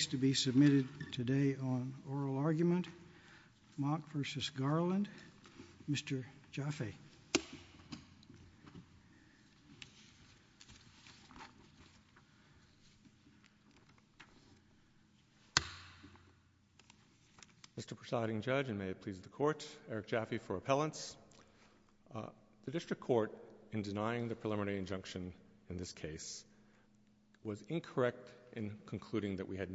is to be submitted today on oral argument. Mock v. Garland. Mr. Jaffe. Mr. Presiding Judge, and may it please the Court, Eric Jaffe for appellants. The District Court, in denying the preliminary injunction in this case, was incorrect in concluding that we had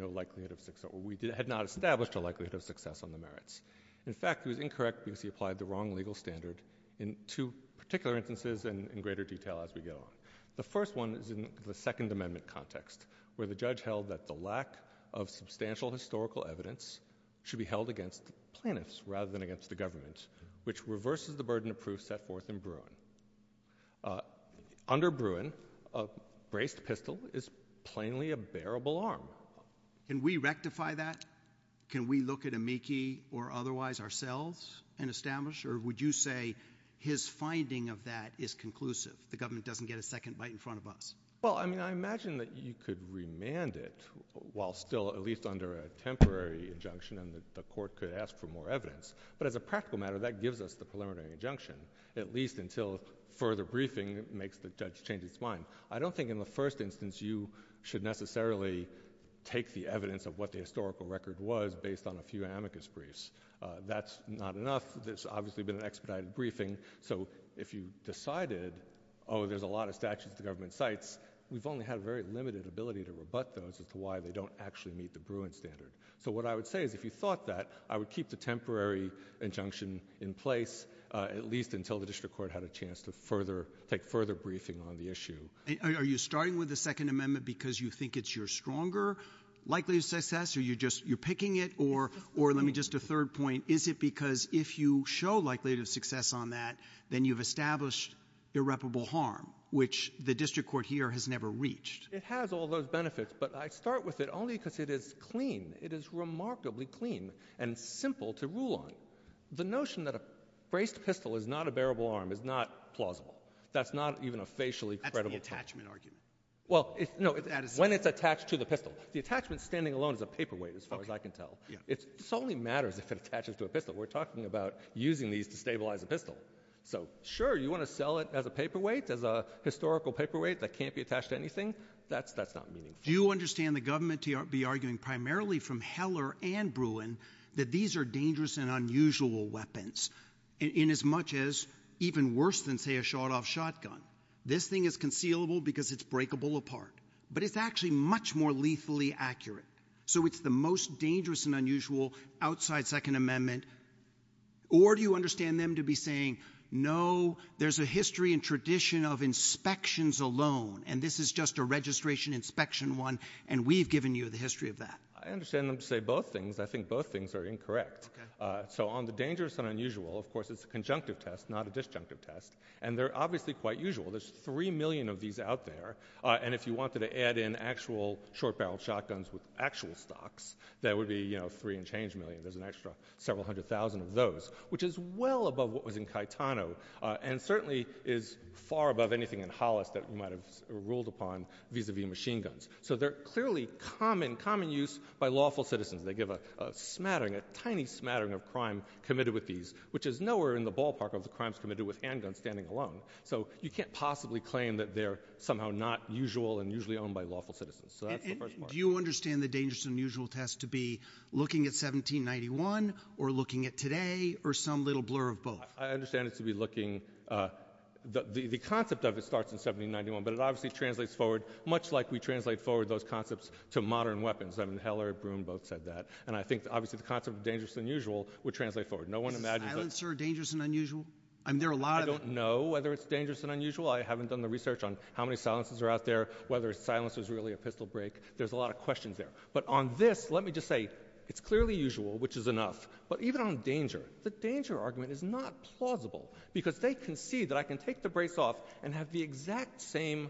not established a likelihood of success on the merits. In fact, it was incorrect because he applied the wrong legal standard in two particular instances and in greater detail as we go on. The first one is in the Second Amendment context where the judge held that the lack of substantial historical evidence should be held against plaintiffs rather than against the government, which reverses the burden of proof set forth in Bruin. Under Can we rectify that? Can we look at amici or otherwise ourselves and establish? Or would you say his finding of that is conclusive, the government doesn't get a second bite in front of us? Well, I mean, I imagine that you could remand it while still at least under a temporary injunction and the Court could ask for more evidence. But as a practical matter, that gives us the preliminary injunction, at least until further briefing makes the take the evidence of what the historical record was based on a few amicus briefs. That's not enough. There's obviously been an expedited briefing. So if you decided, oh, there's a lot of statutes the government cites, we've only had very limited ability to rebut those as to why they don't actually meet the Bruin standard. So what I would say is if you thought that I would keep the temporary injunction in place, at least until the District Court had a chance to further take further briefing on the issue. Are you starting with the Second Amendment? Is it because you're stronger likely to success? Are you just, you're picking it? Or let me just, a third point, is it because if you show likelihood of success on that, then you've established irreparable harm, which the District Court here has never reached? It has all those benefits, but I start with it only because it is clean. It is remarkably clean and simple to rule on. The notion that a braced pistol is not a bearable arm is not plausible. That's not even a facially credible. That's the attachment argument. Well, no, when it's attached to the pistol. The attachment standing alone is a paperweight, as far as I can tell. It solely matters if it attaches to a pistol. We're talking about using these to stabilize a pistol. So sure, you want to sell it as a paperweight, as a historical paperweight that can't be attached to anything? That's not meaningful. Do you understand the government to be arguing primarily from Heller and Bruin that these are dangerous and unusual weapons, in as much as even worse than, say, a shot-off shotgun? This thing is concealable because it's actually much more lethally accurate. So it's the most dangerous and unusual outside Second Amendment? Or do you understand them to be saying, no, there's a history and tradition of inspections alone, and this is just a registration inspection one, and we've given you the history of that? I understand them to say both things. I think both things are incorrect. So on the dangerous and unusual, of course, it's a conjunctive test, not a disjunctive test, and they're obviously quite usual. There's three million of these out there, and if you wanted to add in actual short-barreled shotguns with actual stocks, that would be, you know, three and change million. There's an extra several hundred thousand of those, which is well above what was in Caetano, and certainly is far above anything in Hollis that we might have ruled upon, vis-a-vis machine guns. So they're clearly common use by lawful citizens. They give a smattering, a tiny smattering of crime committed with these, which is nowhere in the ballpark of the crimes committed with handguns standing alone. So you can't possibly claim that they're somehow not usual and usually owned by lawful citizens. So that's the first part. Do you understand the dangerous and unusual test to be looking at 1791, or looking at today, or some little blur of both? I understand it to be looking... The concept of it starts in 1791, but it obviously translates forward, much like we translate forward those concepts to modern weapons. I mean, Heller and Broom both said that, and I think, obviously, the concept of dangerous and unusual would translate forward. No one imagines that... Are silencers dangerous and unusual? I don't know whether it's dangerous and unusual. I haven't done the research on how many silencers are out there, whether a silencer is really a pistol break. There's a lot of questions there. But on this, let me just say, it's clearly usual, which is enough. But even on danger, the danger argument is not plausible, because they can see that I can take the brace off and have the exact same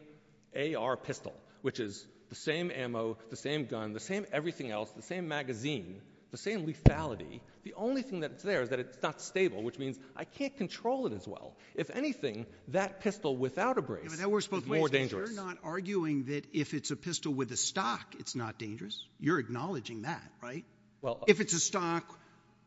AR pistol, which is the same ammo, the same gun, the same everything else, the same magazine, the same lethality. The only thing that's there is that it's not stable, which means I can't control it as well. If anything, that pistol without a break... You're not arguing that if it's a pistol with a stock, it's not dangerous. You're acknowledging that, right? If it's a stock,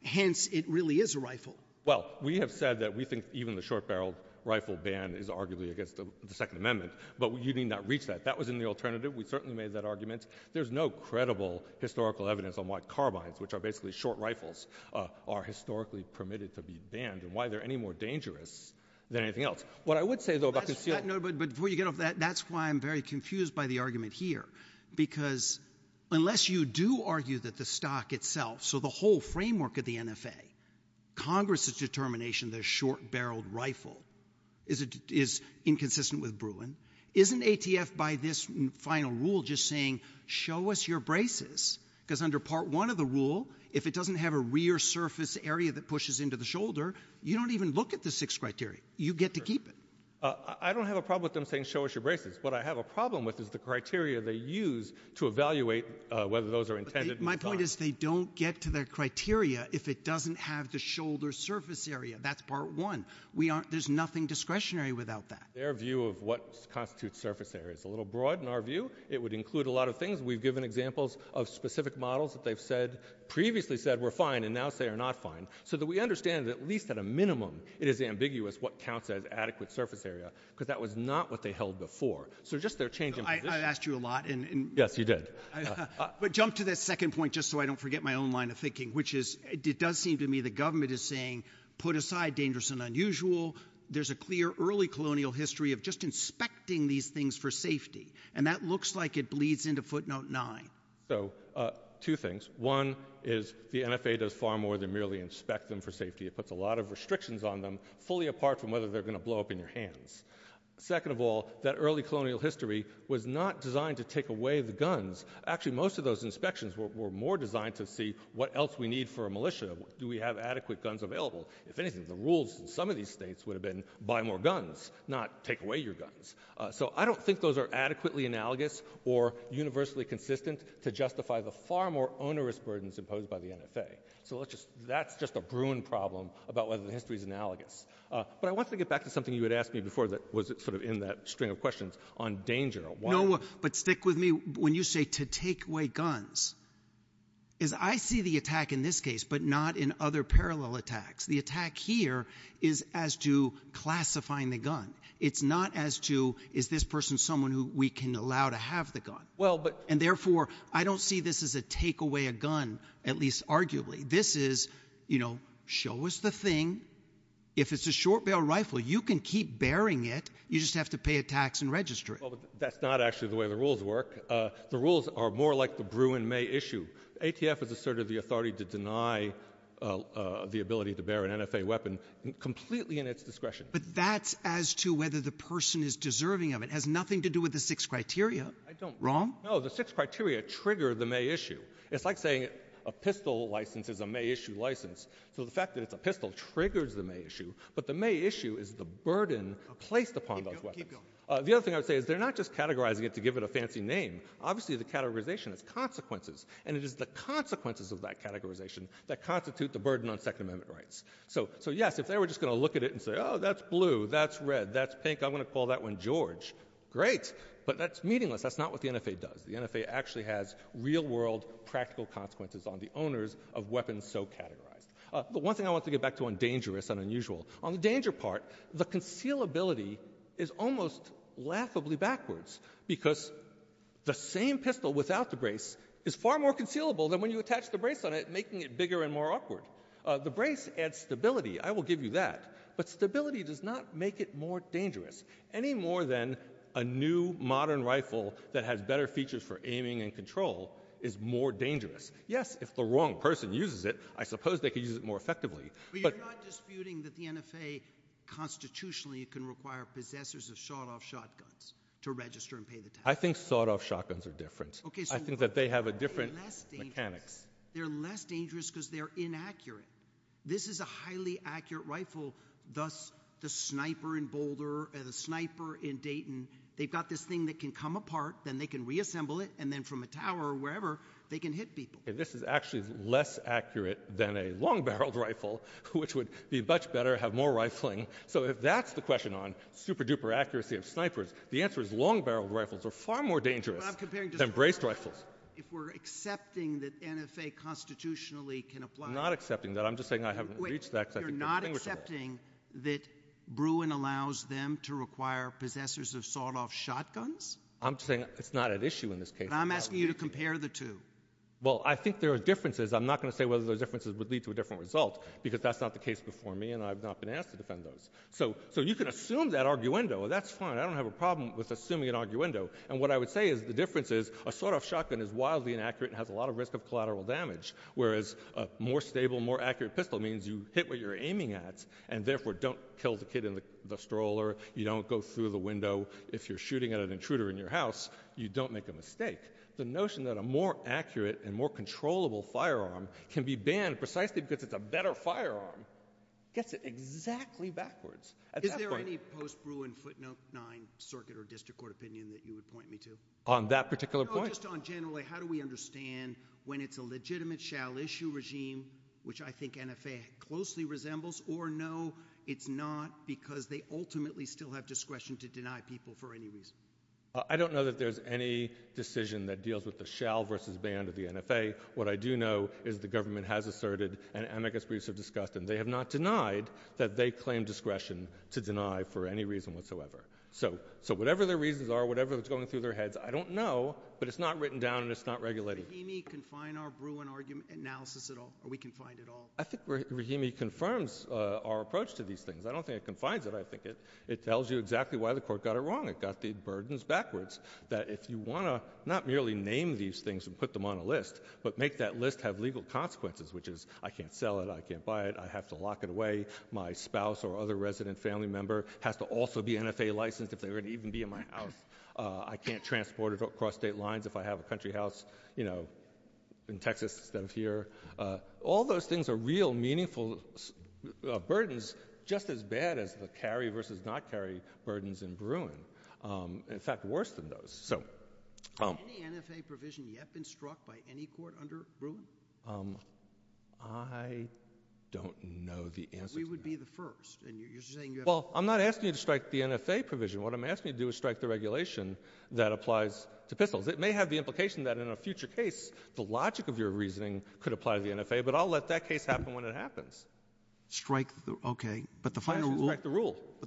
hence, it really is a rifle. Well, we have said that we think even the short-barreled rifle ban is arguably against the Second Amendment, but we did not reach that. That was in the alternative. We certainly made that argument. There's no credible historical evidence on why carbines, which are basically short rifles, are historically permitted to be banned and why they're any more dangerous than anything else. What I would say, though, about this... But before you get off that, that's why I'm very confused by the argument here, because unless you do argue that the stock itself, so the whole framework of the NFA, Congress's determination that a short-barreled rifle is inconsistent with Bruin, isn't ATF, by this final rule, just saying, show us your braces? Because under Part 1 of the rule, if it doesn't have a rear surface area that pushes into the shoulder, you don't even look at the six criteria. You get to keep it. I don't have a problem with them saying, show us your braces. What I have a problem with is the criteria they use to evaluate whether those are intended. My point is, they don't get to their criteria if it doesn't have the shoulder surface area. That's Part 1. There's nothing discretionary without that. Their view of what constitutes surface area is a little broad in our view. It would include a lot of things. We've given examples of specific models that they've previously said were fine and now say are not fine, so that we understand that at least at a minimum, it is ambiguous what counts as adequate surface area, because that was not what they held before. So just their change in position. I've asked you a lot. Yes, you did. But jump to that second point, just so I don't forget my own line of thinking, which is, it does seem to me the government is saying, put aside dangerous and unusual. There's a clear early colonial history of just inspecting these things for safety, and that looks like it bleeds into footnote 9. So two things. One is, the NFA does far more than merely inspect them for safety. It puts a lot of restrictions on them, fully apart from whether they're going to blow up in your hands. Second of all, that early colonial history was not designed to take away the guns. Actually, most of those inspections were more designed to see what else we need for a militia. Do we have adequate guns available? If anything, the rules in some of these states would have been, buy more guns, not take away your guns. So I don't think those are adequately analogous or universally consistent to justify the far more onerous burdens imposed by the NFA. So that's just a brewing problem about whether the history is analogous. But I want to get back to something you had asked me before that was sort of in that string of questions on danger. No, but stick with me. When you say to take away guns, is I see the attack in this case, but not in other parallel attacks. The attack here is as to classifying the gun. It's not as to, is this person someone who we can allow to have the gun? And therefore, I don't see this as a take away a gun, at least arguably. This is, you know, show us the thing. If it's a short-barreled rifle, you can keep bearing it. You just have to pay a tax and register it. Well, that's not actually the way the rules work. The rules are more like brew in May issue. ATF is asserted the authority to deny the ability to bear an NFA weapon completely in its discretion. But that's as to whether the person is deserving of it has nothing to do with the six criteria. I don't wrong. Oh, the six criteria trigger the May issue. It's like saying a pistol license is a May issue license. So the fact that the pistol triggers the May issue, but the May issue is the burden placed upon. The other thing I would say is they're not just categorizing it to give it a fancy name. Obviously, the categorization has consequences, and it is the consequences of that categorization that constitute the burden on Second Amendment rights. So yes, if they were just going to look at it and say, oh, that's blue, that's red, that's pink, I'm going to call that one George. Great. But that's meaningless. That's not what the NFA does. The NFA actually has real-world practical consequences on the owners of weapons so categorized. But one thing I want to get back to on dangerous and unusual. On the danger part, the concealability is almost laughably backwards because the same pistol without the brace is far more concealable than when you attach the brace on it, making it bigger and more awkward. The brace adds stability. I will give you that. But stability does not make it more dangerous, any more than a new modern rifle that has better features for aiming and control is more dangerous. Yes, if the wrong person uses it, I suppose they could use it more effectively. But you're not disputing that the NFA constitutionally can require possessors of shot-off shotguns to register and pay the tax? I think shot-off shotguns are different. I think that they have a different mechanic. They're less dangerous because they're inaccurate. This is a highly accurate rifle, thus the sniper in Boulder and a sniper in Dayton. They've got this thing that can come apart, then they can reassemble it, and then from a tower or wherever they can hit people. And this is actually less accurate than a long-barreled rifle, which would be much better, have more rifling. So if that's the question on super-duper accuracy of snipers, the answer is long-barreled rifles are far more dangerous than brace rifles. If we're accepting that the NFA constitutionally can apply... I'm not accepting that. I'm just saying I haven't reached that. You're not accepting that Bruin allows them to require possessors of shot-off shotguns? I'm saying it's not an issue in this case. I'm asking you to compare the two. Well, I think there are differences. I'm not going to say whether those differences would lead to different results because that's not the case before me and I've not been asked to defend those. So you can assume that arguendo. That's fine. I don't have a problem with assuming an arguendo. And what I would say is the difference is a shot-off shotgun is wildly inaccurate and has a lot of risk of collateral damage, whereas a more stable, more accurate pistol means you hit what you're aiming at and therefore don't kill the kid in the stroller, you don't go through the window. If you're shooting at an intruder in your house, you don't make a mistake. The notion that a more accurate and more controllable firearm can be banned precisely because it's a better firearm gets it exactly backwards. Is there any post-Bruin footnote 9 circuit or district court opinion that you would point me to? On that particular point? Just on generally, how do we understand when it's a legitimate shall issue regime, which I think NFA closely resembles, or no, it's not because they ultimately still have discretion to deny people for any reason? I don't know that there's any decision that deals with the shall versus ban of the NFA. What I do know is the government has asserted, and I guess we should discuss them, they have not denied that they claim discretion to deny for any reason whatsoever. So whatever the reasons are, whatever is going through their heads, I don't know, but it's not written down and it's not regulated. Can the regime confine our Bruin argument analysis at all, or we confine it all? I think regime confirms our approach to these things. I don't think it confines it. I think it tells you exactly why the court got it wrong. It got the burdens backwards that if you want to not merely name these things and put them on a list, but make that list have legal consequences, which is I can't sell it, I can't buy it, I have to lock it away. My spouse or other resident family member has to also be NFA licensed if they're going to even be in my house. I can't transport it across state lines if I have a country house, you know, in Texas than here. All those things are real meaningful burdens, just as bad as the carry versus not carry burdens in Bruin. In fact, worse than those. Has any NFA provision yet been struck by any court under Bruin? I don't know the answer. We would be the first. Well, I'm not asking you to strike the NFA provision. What I'm asking you to do is strike the regulation that applies to Pitfall. It may have the implication that in a future case, the logic of your reasoning could apply to the NFA, but I'll let that case happen when it happens. Strike, okay. But the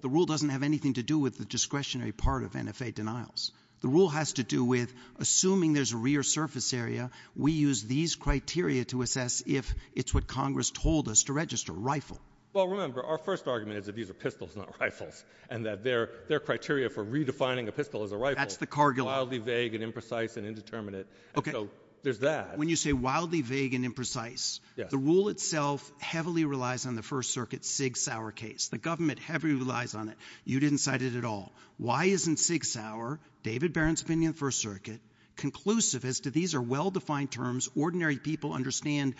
rule doesn't have anything to do with the discretionary part of NFA denials. The rule has to do with, assuming there's a rear surface area, we use these criteria to assess if it's what Congress told us to register, rifle. Well, remember, our first argument is that these are pistols, not rifles, and that their criteria for redefining a pistol as a rifle is wildly vague and imprecise and indeterminate. So there's that. When you say wildly vague and imprecise, the rule itself heavily relies on the First Circuit's Sig Sauer case. The government heavily relies on it. You didn't cite it at all. Why isn't Sig Sauer and David Barron's opinion in the First Circuit conclusive as to these are well-defined terms? Ordinary people understand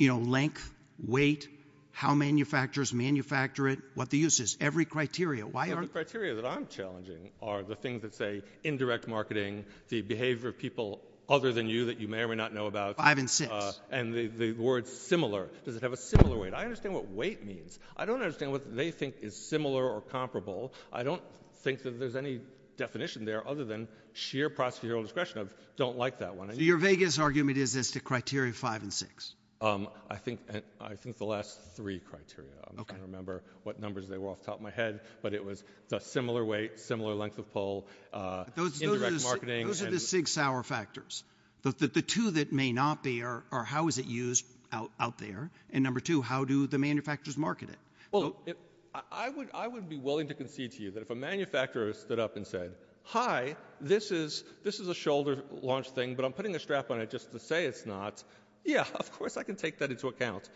length, weight, how manufacturers manufacture it, what the use is, every criteria. The criteria that I'm challenging are the things that say indirect marketing, the behavior of people other than you that you may or may not know about, and the word similar. Does it have a similar weight? I understand what weight means. I don't understand what they think is similar or comparable. I don't think that there's any definition there other than sheer procedural discretion. I don't like that one. Your vaguest argument is it's the criteria five and six. I think the last three criteria. I don't remember what numbers they were off the top of my head, but it was the similar weight, similar length of pull, indirect marketing. Those are the Sig Sauer factors, but the two that may not be are how is it used out there, and number two, how do the manufacturers market it? I would be willing to concede to you that if a manufacturer stood up and said, hi, this is a shoulder launch thing, but I'm putting a strap on it just to say it's not, yeah, of course I can take that into account,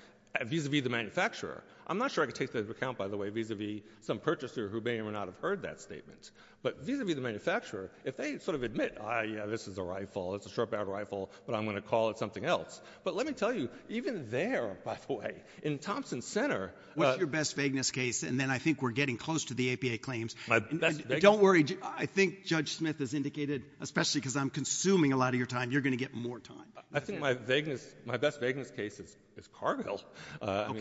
vis-a-vis the manufacturer. I'm not sure I can take that into account, by the way, vis-a-vis some purchaser who may or may not have heard that statement, but vis-a-vis the manufacturer, if they sort of admit, ah, yeah, this is a rifle, it's a sharp-edged rifle, but I'm going to call it something else, but let me tell you, even there, by the way, in Thompson Center— What's your best vagueness case, and then I think we're getting close to the APA claims. Don't worry. I think Judge Smith has indicated, especially because I'm consuming a lot of your time, you're going to get more time. I think my best vagueness case is Carville.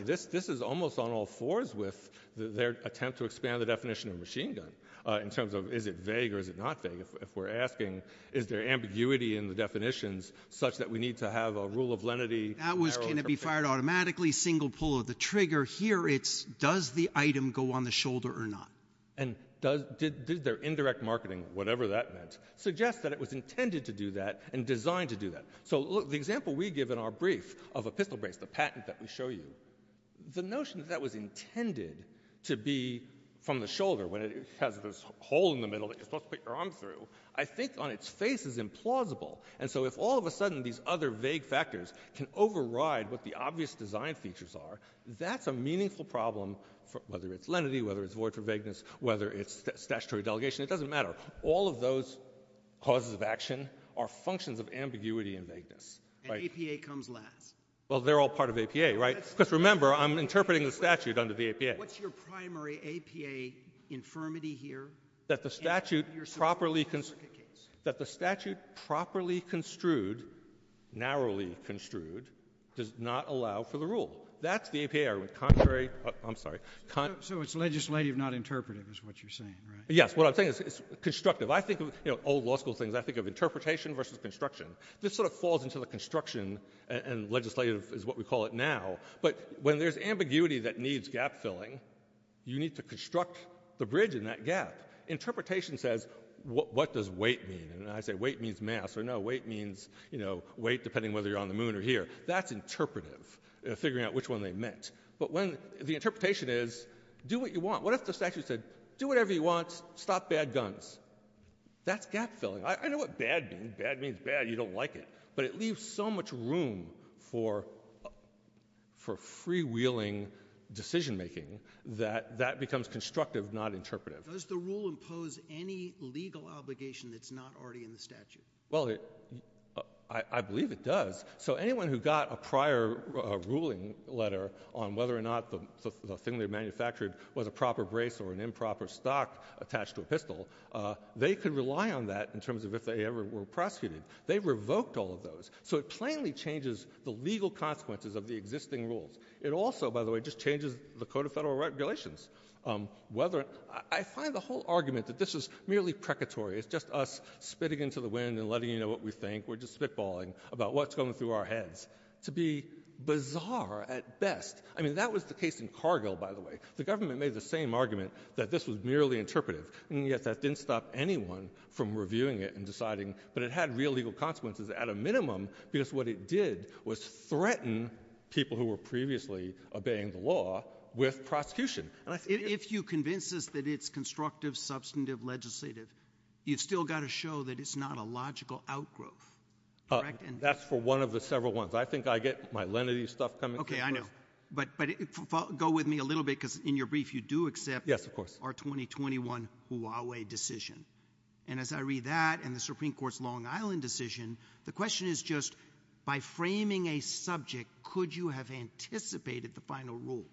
This is almost on all fours with their attempt to expand the definition of machine gun in terms of is it vague or is it not vague. If we're asking, is there ambiguity in the definitions such that we need to have a rule of lenity— That was going to be fired automatically, single pull of the trigger. Here it's, does the item go on the shoulder or not? And did their indirect marketing, whatever that was, suggest that it was intended to do that and designed to do that? So the example we give in our brief of a pistol brace, the patent that we show you, the notion that that was intended to be from the shoulder, when it has this hole in the middle that you're supposed to put your arm through, I think on its face is implausible. And so if all of a sudden these other vague factors can override what the obvious design features are, that's a meaningful problem, whether it's lenity, whether it's void for vagueness, whether it's statutory delegation, it doesn't matter. All of those causes of action are functions of ambiguity and vagueness. And APA comes last. Well, they're all part of the APA, right? Because remember, I'm interpreting the statute under the APA. What's your primary APA infirmity here? That the statute properly construed, narrowly construed, does not allow for the rule. That's the APA. I'm sorry. So it's legislative, not interpretive, is what you're saying, right? Yes. What I'm saying is it's constructive. I think, you know, old law school things, I think of interpretation versus construction. This sort of falls into the construction and legislative is what we call it now. But when there's ambiguity that needs gap filling, you need to construct the bridge in that gap. Interpretation says, what does weight mean? And I say, weight means mass. Or no, weight means, you know, weight, depending whether you're on the moon or here. That's interpretive, figuring out which one they meant. But when the interpretation is, do what you want. What if the statute said, do whatever you want, stop bad guns? That's gap filling. I know what bad means. Bad means bad. You don't like it. But it leaves so much room for freewheeling decision making that that becomes constructive, not interpretive. Does the rule impose any legal obligation that's not already in the statute? Well, I believe it does. So anyone who got a prior ruling letter on whether or not the thing they manufactured was a proper brace or an improper stock attached to a pistol, they could rely on that in terms of if they ever were prosecuted. They revoked all of those. So it plainly changes the legal consequences of the existing rules. It also, by the way, just changes the Code of Federal Regulations. I find the whole argument that this is merely precatory, it's just us spitting into the wind and letting you know what we think, we're just spitballing about what's going through our heads, to be bizarre at best. I mean, that was the case in Cargill, by the way. The government made the same argument that this was merely interpretive. And yet that didn't stop anyone from reviewing it and deciding. But it had real legal consequences, at a minimum, because what it did was threaten people who were previously obeying the law with prosecution. If you convince us that it's constructive, substantive, legislative, you've still got to show that it's not a logical outgrowth. That's for one of the several ones. I think I get my lenity stuff coming. OK, I know. But go with me a little bit, because in your brief, you do accept Yes, of course. our 2021 Huawei decision. And as I read that and the Supreme Court's Long Island decision, the question is just by framing a subject, could you have anticipated the final rule?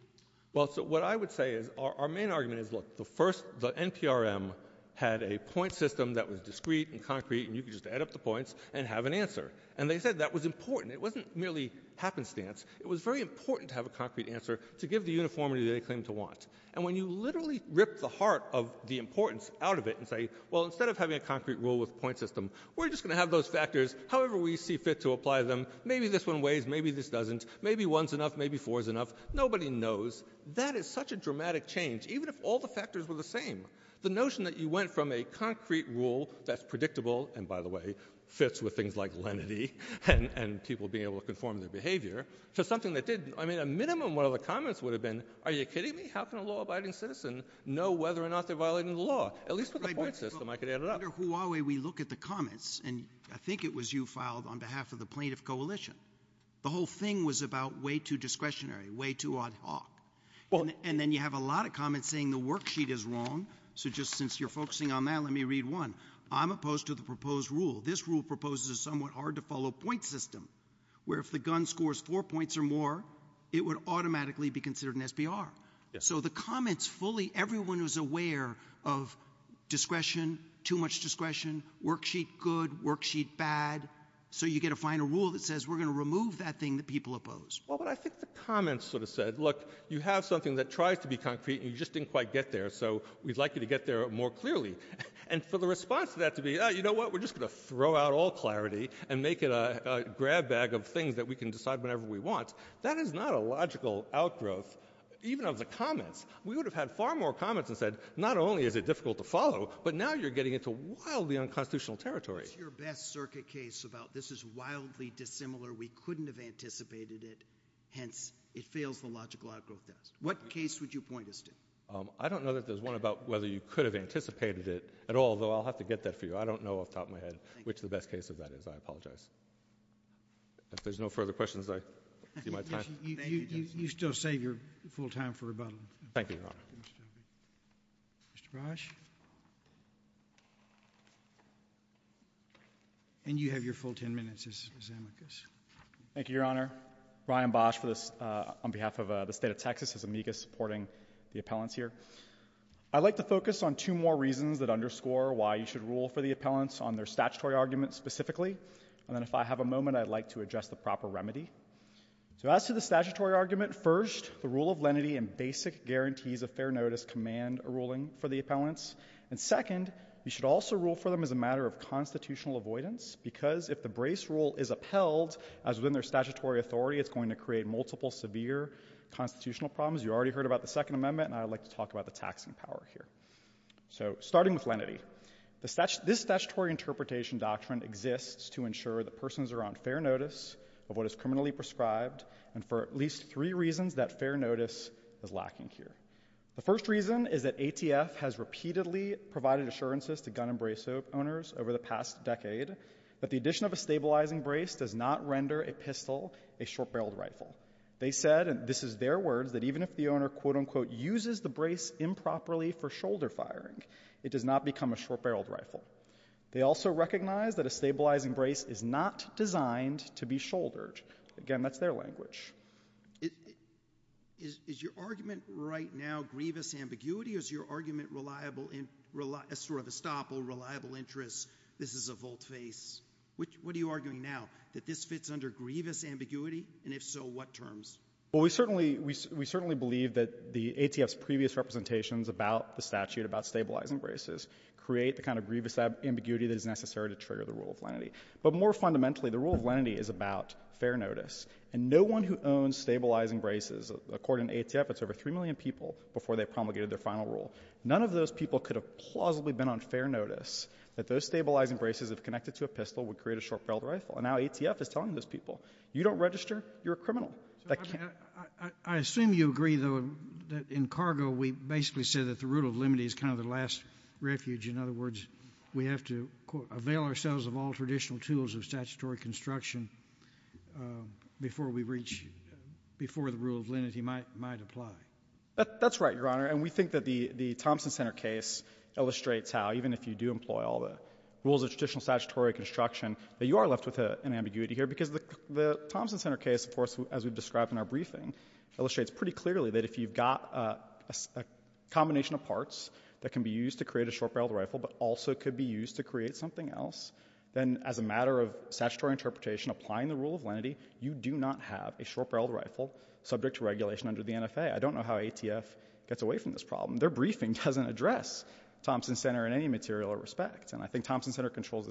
Well, what I would say is our main argument is, look, the first, the NPRM had a point system that was discrete and concrete. And you can just add up the points and have an answer. And they said that was important. It wasn't merely happenstance. It was very important to have a concrete answer to give the uniformity they claim to want. And when you literally rip the heart of the importance out of it and say, well, instead of having a concrete rule with a point system, we're just going to have those factors, however we see fit to apply them. Maybe this one weighs. Maybe this doesn't. Maybe one's enough. Maybe four's enough. Nobody knows. That is such a dramatic change, even if all the factors were the same. The notion that you went from a concrete rule that's predictable, and by the way, fits with things like lenity and people being able to conform their behavior, to something that didn't. I mean, a minimum one of the comments would have been, are you kidding me? How can a law-abiding citizen know whether or not they're violating the law? At least with a point system, I could add it up. Under Huawei, we look at the comments, and I think it was you filed on behalf of the plaintiff coalition. The whole thing was about way too discretionary, way too on top. And then you have a lot of comments saying the worksheet is wrong. So just since you're focusing on that, let me read one. I'm opposed to the proposed rule. This rule proposes a somewhat hard to follow point system, where if the gun scores four points or more, it would automatically be considered an SBR. So the comments fully, everyone was aware of discretion, too much discretion, worksheet good, worksheet bad. So you get a final rule that says we're going to remove that thing that people oppose. Well, but I think the comments sort of said, look, you have something that tries to be concrete, and you just didn't quite get there. So we'd like you to get there more clearly. And so the response to that to be, you know what, we're just going to throw out all clarity and make it a grab bag of things that we can decide whenever we want. That is not a logical outgrowth, even of the comments. We would have had far more comments and said, not only is it difficult to follow, but now you're getting into wildly unconstitutional territory. What's your best circuit case about this is wildly dissimilar. We couldn't have anticipated it. Hence, it fails the logical outgrowth test. What case would you point us to? I don't know that there's one about whether you could have anticipated it at all, though I'll have to get that for you. I don't know off the top of my head, which the best case of that is. I apologize. If there's no further questions, I see my time. You still say you're full time for rebuttal. Thank you, Your Honor. Mr. Bosch. And you have your full 10 minutes, Mr. Zemeckis. Thank you, Your Honor. Ryan Bosch on behalf of the state of Texas is amicus supporting the appellants here. I'd like to focus on two more reasons that underscore why you should rule for the statutory argument specifically. And if I have a moment, I'd like to address the proper remedy. So as to the statutory argument, first, the rule of lenity and basic guarantees of fair notice command a ruling for the appellants. And second, you should also rule for them as a matter of constitutional avoidance, because if the brace rule is upheld, as within their statutory authority, it's going to create multiple severe constitutional problems. You already heard about the Second Amendment, and I'd like to talk about the taxing power here. So starting with lenity, this statutory interpretation doctrine exists to ensure that persons are on fair notice of what is criminally prescribed, and for at least three reasons that fair notice is lacking here. The first reason is that ATF has repeatedly provided assurances to gun and brace owners over the past decade that the addition of a stabilizing brace does not render a pistol a short-barreled rifle. They said, and this is word, that even if the owner, quote, unquote, uses the brace improperly for shoulder firing, it does not become a short-barreled rifle. They also recognize that a stabilizing brace is not designed to be shouldered. Again, that's their language. Is your argument right now grievous ambiguity? Is your argument sort of a stop or reliable interest? This is a vote face. What are you arguing now, that this fits under grievous ambiguity? And if so, what terms? Well, we certainly believe that the ATF's previous representations about the statute, about stabilizing braces, create the kind of grievous ambiguity that is necessary to trigger the rule of lenity. But more fundamentally, the rule of lenity is about fair notice. And no one who owns stabilizing braces, according to ATF, it's over three million people before they promulgated their final rule. None of those people could have plausibly been on fair notice that those stabilizing braces, if connected to a pistol, would create a short-barreled rifle. And now ATF is telling those people, you don't register, you're a criminal. I assume you agree, though, that in cargo, we basically said that the rule of lenity is kind of the last refuge. In other words, we have to, quote, avail ourselves of all traditional tools of statutory construction before we reach, before the rule of lenity might apply. That's right, Your Honor. And we think that the Thompson Center case illustrates how, even if you do employ all the rules of traditional construction, that you are left with an ambiguity here. Because the Thompson Center case, of course, as we've described in our briefing, illustrates pretty clearly that if you've got a combination of parts that can be used to create a short-barreled rifle but also could be used to create something else, then as a matter of statutory interpretation, applying the rule of lenity, you do not have a short-barreled rifle subject to regulation under the NFA. I don't know how ATF gets away from this problem. Their briefing doesn't address Thompson Center in any material respect. And I think Congress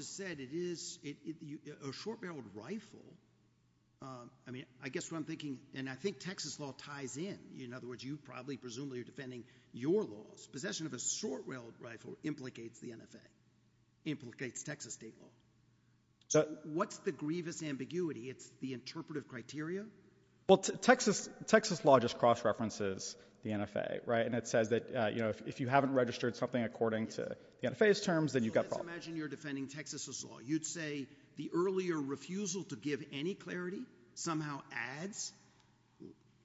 has said it is a short-barreled rifle. I mean, I guess what I'm thinking, and I think Texas law ties in. In other words, you probably, presumably, are defending your laws. Possession of a short-barreled rifle implicates the NFA, implicates Texas state law. What's the grievous ambiguity? It's the interpretive criteria? Well, Texas law just cross-references the NFA, right? And it says that if you haven't registered something according to the NFA's terms, then you've got a problem. Well, imagine you're defending Texas's law. You'd say the earlier refusal to give any clarity somehow adds,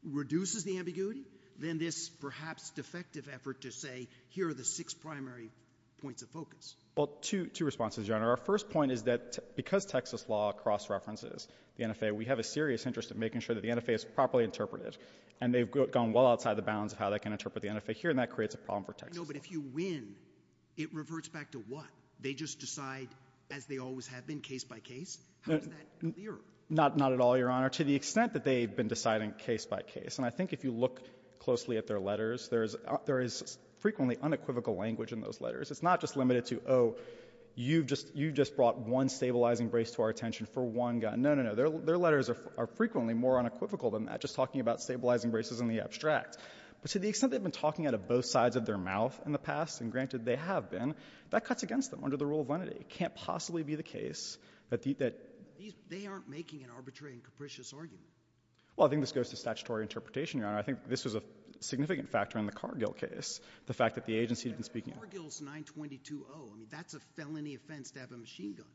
reduces the ambiguity, then this perhaps defective effort to say, here are the six primary points of focus. Well, two responses, Your Honor. Our first point is that because Texas law cross-references the NFA, we have a serious interest in making sure that the NFA is properly interpreted. And they've gone well outside the bounds of how they can interpret the NFA here, and that creates a problem for Texas. No, but if you win, it reverts back to what? They just decide as they always have been, case by case? How is that clear? Not at all, Your Honor, to the extent that they've been deciding case by case. And I think if you look closely at their letters, there is frequently unequivocal language in those letters. It's not just limited to, oh, you just brought one stabilizing brace to our attention for one guy. No, no, no. Their letters are frequently more unequivocal than that, just talking about stabilizing braces in the abstract. But to the extent they've been talking out of both sides of their mouth in the past, and granted, they have been, that cuts against them under the rule of vanity. It can't possibly be the case that— They aren't making an arbitrary and capricious argument. Well, I think this goes to statutory interpretation, Your Honor. I think this is a significant factor in the Cargill case, the fact that the agency didn't speak— Cargill is 922-0. I mean, that's a felony offense to have a machine gun.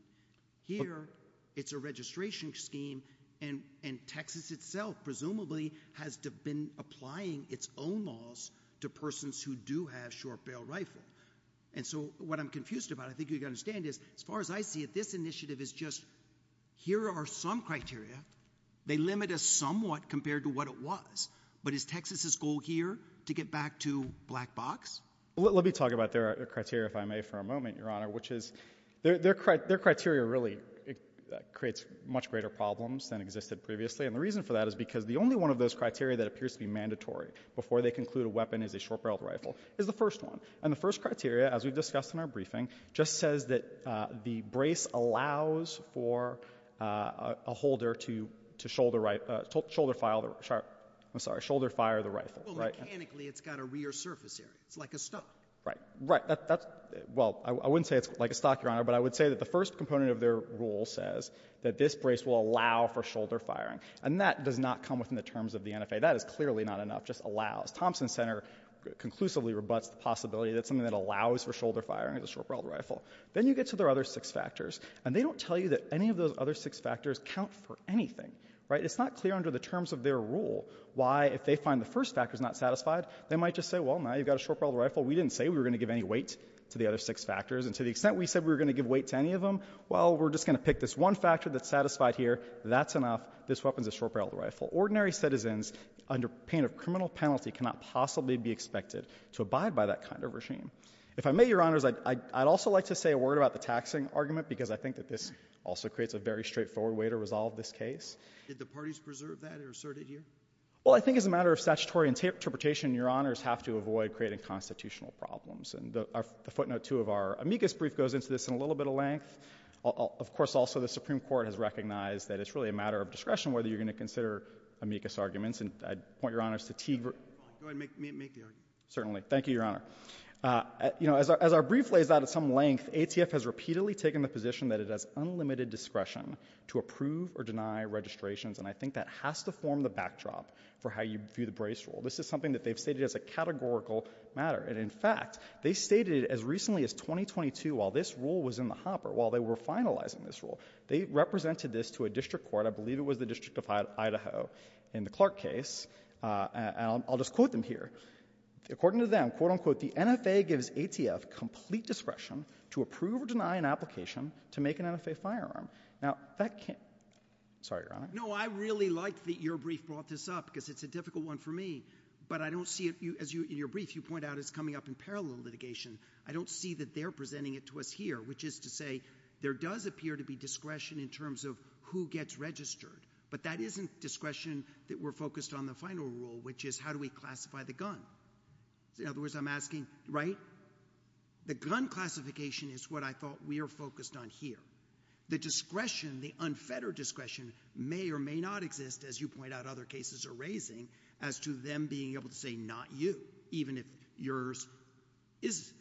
Here, it's a registration scheme, and Texas itself presumably has been applying its own laws to persons who do have short-barreled rifles. And so what I'm confused about, I think you'd understand, is as far as I see it, this initiative is just, here are some criteria. They limit us somewhat compared to what it was. But is Texas's goal here to get back to black box? Let me talk about their criteria, if I may, for a moment, Your Honor, which is their criteria really creates much greater problems than existed previously. And the reason for that is because the only one of those criteria that appears to be mandatory before they conclude a weapon is a short-barreled rifle is the first one. And the first criteria, as we've discussed in our briefing, just says that the brace allows for a holder to shoulder right — shoulder fire the — I'm sorry, shoulder fire the rifle, right? Well, mechanically, it's got a rear surface area. It's like a stock. Right. Right. That's — well, I wouldn't say it's like a stock, Your Honor, but I would say that the first component of their rule says that this brace will allow for shoulder firing. And that does not come within the terms of the NFA. That is clearly not enough. Just allows. Thompson Center conclusively rebuts the possibility that something that allows for shoulder firing is a short-barreled rifle. Then you get to their other six factors. And they don't tell you that any of those other six factors count for anything. Right? It's not clear under the terms of their rule why, if they find the first factor is not satisfied, they might just say, well, now you've got a short-barreled rifle. We didn't say we were going to give any weight to the other six factors. And to the extent we said we were going to give weight to any of them, well, we're just going to pick this one factor that's satisfied here. That's enough. This weapon is a short-barreled rifle. Ordinary citizens, under pain of criminal penalty, cannot possibly be expected to abide by that kind of regime. If I may, Your Honors, I'd also like to say a word about the taxing argument, because I think that this also creates a very straightforward way to resolve this case. Did the parties preserve that or assert it here? Well, I think as a matter of statutory interpretation, Your Honors, have to avoid creating constitutional problems. And the footnote two of our amicus brief goes into this in a little bit of length. Of course, also, the Supreme Court has recognized that it's really a matter of discretion whether you're going to consider amicus arguments. And I'd point Your Honors to Teague. Go ahead. Make your argument. Certainly. Thank you, Your Honor. As our brief lays out at some length, ATF has repeatedly taken the position that it has unlimited discretion to approve or deny registrations. And I think that has to form the backdrop for how you view the brace rule. This is something that they've stated as a categorical matter. And in fact, they've stated as recently as 2022, while this rule was in the hopper, while they were finalizing this rule, they represented this to a district court, I believe it was the District of Idaho, in the Clark case. And I'll just quote them here. According to them, quote, unquote, the NFA gives ATF complete discretion to approve or deny an application to make an NFA firearm. Now, that can't—sorry, Your Honor. No, I really like that your brief brought this up, because it's a difficult one for me. But I don't see it—as in your brief, you point out, it's coming up in parallel litigation. I don't see that they're presenting it to us here, which is to say there does appear to be discretion in terms of who gets registered. But that isn't discretion that we're focused on the final rule, which is how do we classify the gun? In other words, I'm asking, right? The gun classification is what I thought we are focused on here. The discretion, the unfettered discretion may or may not exist, as you point out other cases are raising, as to them being able to say, not you, even if yours is